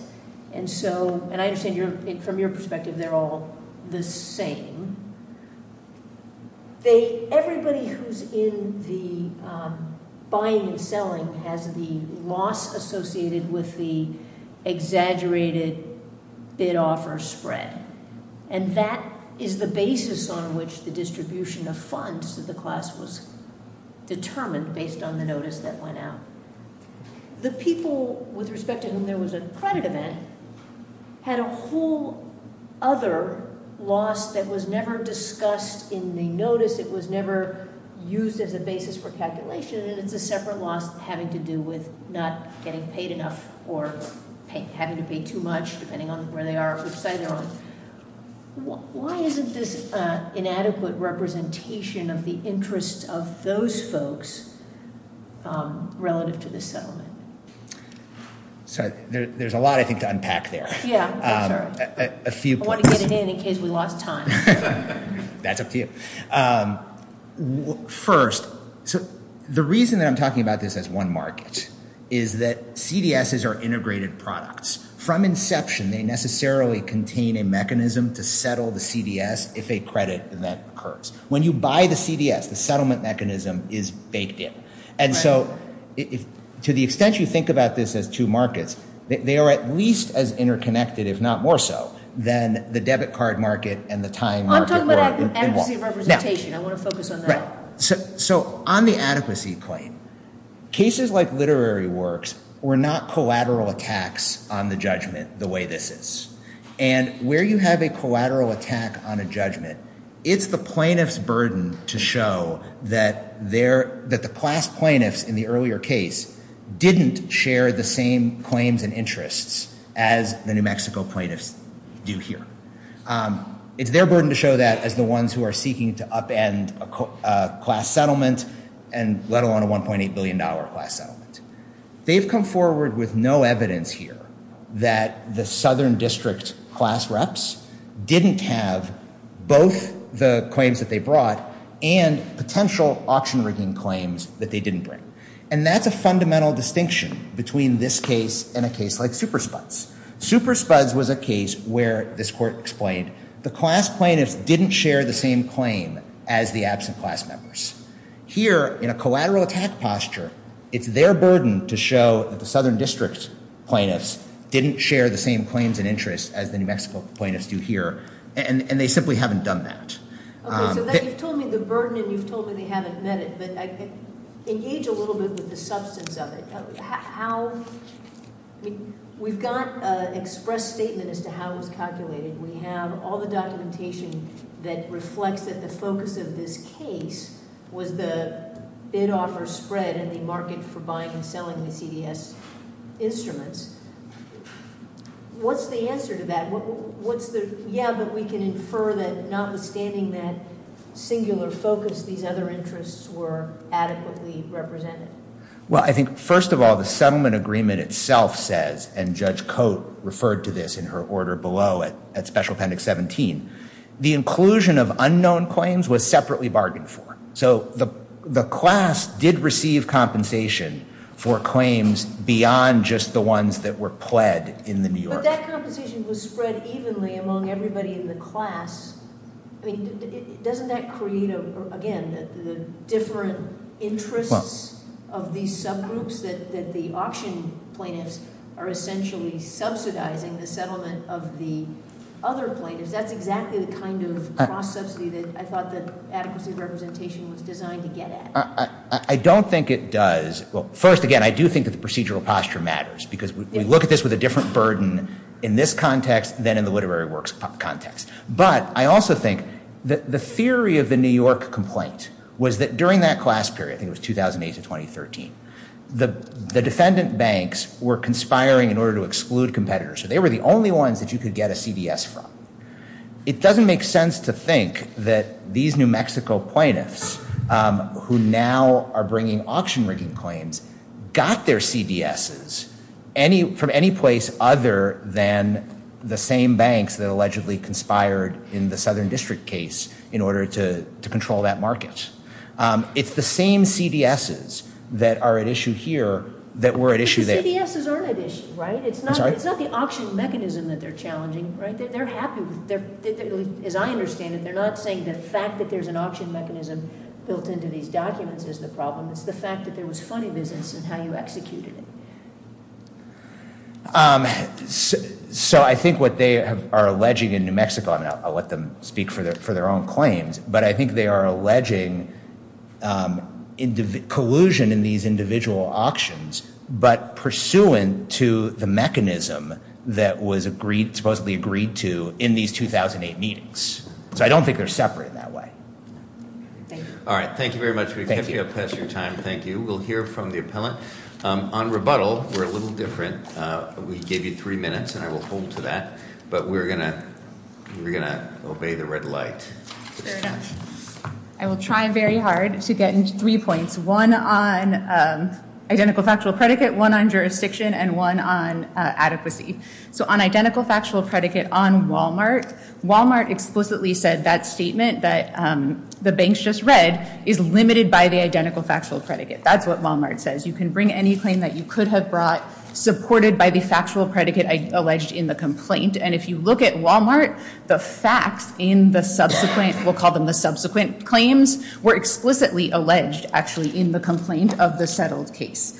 And so, and I understand from your perspective, they're all the same. Everybody who's in the buying and selling has the loss associated with the exaggerated bid-offer spread, and that is the basis on which the distribution of funds to the class was determined based on the notice that went out. The people with respect to whom there was a credit event had a whole other loss that was never discussed in the notice. It was never used as a basis for calculation, and it's a separate loss having to do with not getting paid enough or having to pay too much depending on where they are or which side they're on. Why isn't this inadequate representation of the interests of those folks relative to the settlement? So there's a lot, I think, to unpack there. Yeah, I'm sorry. A few points. I want to get it in in case we lost time. That's up to you. First, the reason that I'm talking about this as one market is that CDSs are integrated products. From inception, they necessarily contain a mechanism to settle the CDS if a credit event occurs. When you buy the CDS, the settlement mechanism is baked in. To the extent you think about this as two markets, they are at least as interconnected, if not more so, than the debit card market and the time market. I'm talking about adequacy of representation. I want to focus on that. On the adequacy claim, cases like literary works were not collateral attacks on the judgment the way this is. Where you have a collateral attack on a judgment, it's the plaintiff's burden to show that the class plaintiffs in the earlier case didn't share the same claims and interests as the New Mexico plaintiffs do here. It's their burden to show that as the ones who are seeking to upend a class settlement, let alone a $1.8 billion class settlement. They've come forward with no evidence here that the Southern District class reps didn't have both the claims that they brought and potential auction rigging claims that they didn't bring. And that's a fundamental distinction between this case and a case like Super Spuds. Super Spuds was a case where, this court explained, the class plaintiffs didn't share the same claim as the absent class members. Here, in a collateral attack posture, it's their burden to show that the Southern District plaintiffs didn't share the same claims and interests as the New Mexico plaintiffs do here, and they simply haven't done that. Okay, so you've told me the burden and you've told me they haven't met it, but engage a little bit with the substance of it. How... We've got an express statement as to how it was calculated. We have all the documentation that reflects that the focus of this case was the bid-offer spread and the market for buying and selling the CDS instruments. What's the answer to that? Yeah, but we can infer that notwithstanding that singular focus, these other interests were adequately represented. Well, I think, first of all, the settlement agreement itself says, and Judge Cote referred to this in her order below at Special Appendix 17, the inclusion of unknown claims was separately bargained for. So the class did receive compensation for claims beyond just the ones that were pled in the New York... But that compensation was spread evenly among everybody in the class. I mean, doesn't that create, again, the different interests of these subgroups that the auction plaintiffs are essentially subsidizing the settlement of the other plaintiffs? That's exactly the kind of cross-subsidy that I thought that adequacy of representation was designed to get at. I don't think it does... Well, first, again, I do think that the procedural posture matters because we look at this with a different burden in this context than in the literary works context. But I also think that the theory of the New York complaint was that during that class period, I think it was 2008 to 2013, the defendant banks were conspiring in order to exclude competitors, so they were the only ones that you could get a CDS from. It doesn't make sense to think that these New Mexico plaintiffs, who now are bringing auction-rigging claims, got their CDSs from any place other than the same banks that allegedly conspired in the Southern District case in order to control that market. It's the same CDSs that are at issue here that were at issue there... But the CDSs aren't at issue, right? I'm sorry? It's not the auction mechanism that they're challenging, right? They're happy... As I understand it, they're not saying the fact that there's an auction mechanism built into these documents is the problem. It's the fact that there was funny business in how you executed it. So I think what they are alleging in New Mexico... I'll let them speak for their own claims, but I think they are alleging collusion in these individual auctions, but pursuant to the mechanism that was supposedly agreed to in these 2008 meetings. So I don't think they're separate in that way. Thank you. All right, thank you very much. We've kept you up past your time. Thank you. We'll hear from the appellant. On rebuttal, we're a little different. We gave you three minutes, and I will hold to that, but we're going to obey the red light. Fair enough. I will try very hard to get into three points, one on identical factual predicate, one on jurisdiction, and one on adequacy. So on identical factual predicate on Walmart, Walmart explicitly said that statement that the banks just read is limited by the identical factual predicate. That's what Walmart says. You can bring any claim that you could have brought supported by the factual predicate alleged in the complaint, and if you look at Walmart, the facts in the subsequent... We'll call them the subsequent claims were explicitly alleged, actually, in the complaint of the settled case.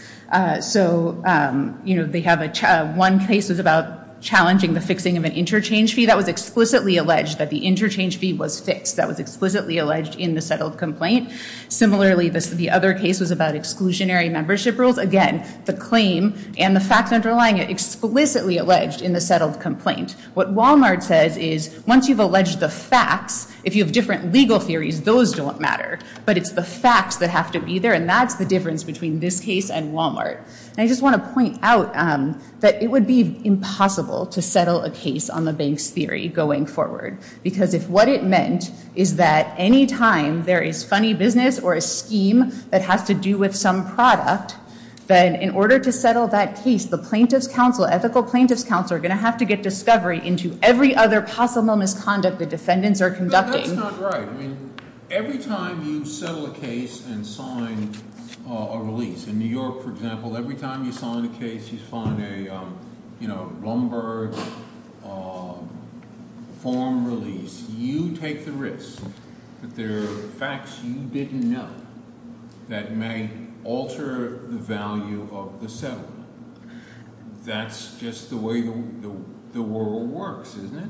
So, you know, they have... One case was about challenging the fixing of an interchange fee. That was explicitly alleged that the interchange fee was fixed. That was explicitly alleged in the settled complaint. Similarly, the other case was about exclusionary membership rules. Again, the claim and the facts underlying it explicitly alleged in the settled complaint. What Walmart says is, once you've alleged the facts, if you have different legal theories, those don't matter, but it's the facts that have to be there, and that's the difference between this case and Walmart. And I just want to point out that it would be impossible to settle a case on the banks theory going forward, because if what it meant is that any time there is funny business or a scheme that has to do with some product, then in order to settle that case, the plaintiff's counsel, ethical plaintiff's counsel, are going to have to get discovery into every other possible misconduct the defendants are conducting. But that's not right. I mean, every time you settle a case and sign a release, in New York, for example, every time you sign a case, you sign a, you know, lumber form release, you take the risk that there are facts you didn't know that may alter the value of the settlement. That's just the way the world works, isn't it?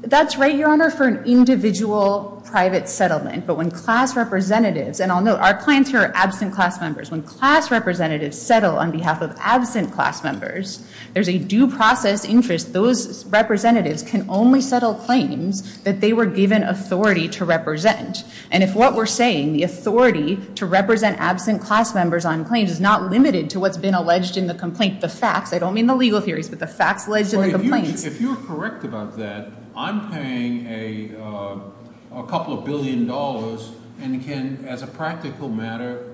That's right, Your Honor, for an individual private settlement. But when class representatives, and I'll note, our clients here are absent class members. When class representatives settle on behalf of absent class members, there's a due process interest. Those representatives can only settle claims that they were given authority to represent. And if what we're saying, the authority to represent absent class members on claims is not limited to what's been alleged in the complaint, the facts, I don't mean the legal theories, but the facts alleged in the complaints. If you're correct about that, I'm paying a couple of billion dollars and can, as a practical matter,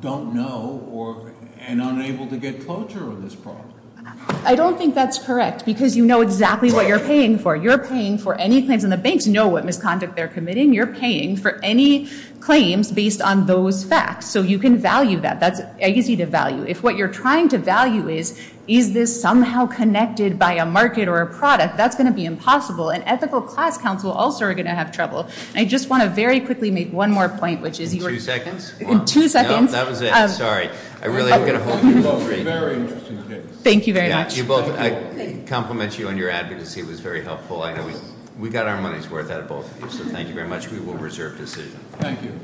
don't know or, and unable to get closure on this problem. I don't think that's correct because you know exactly what you're paying for. You're paying for any claims, and the banks know what misconduct they're committing. You're paying for any claims based on those facts. So you can value that. That's easy to value. If what you're trying to value is, is this somehow connected by a market or a product, that's going to be impossible. And ethical class counsel also are going to have trouble. I just want to very quickly make one more point, which is you were- Two seconds? Two seconds. No, that was it. Sorry. I really am going to hold you to that. Very interesting case. Thank you very much. Yeah, you both, I compliment you on your advocacy. It was very helpful. I know we got our money's worth out of both of you. So thank you very much. We will reserve decision. Thank you.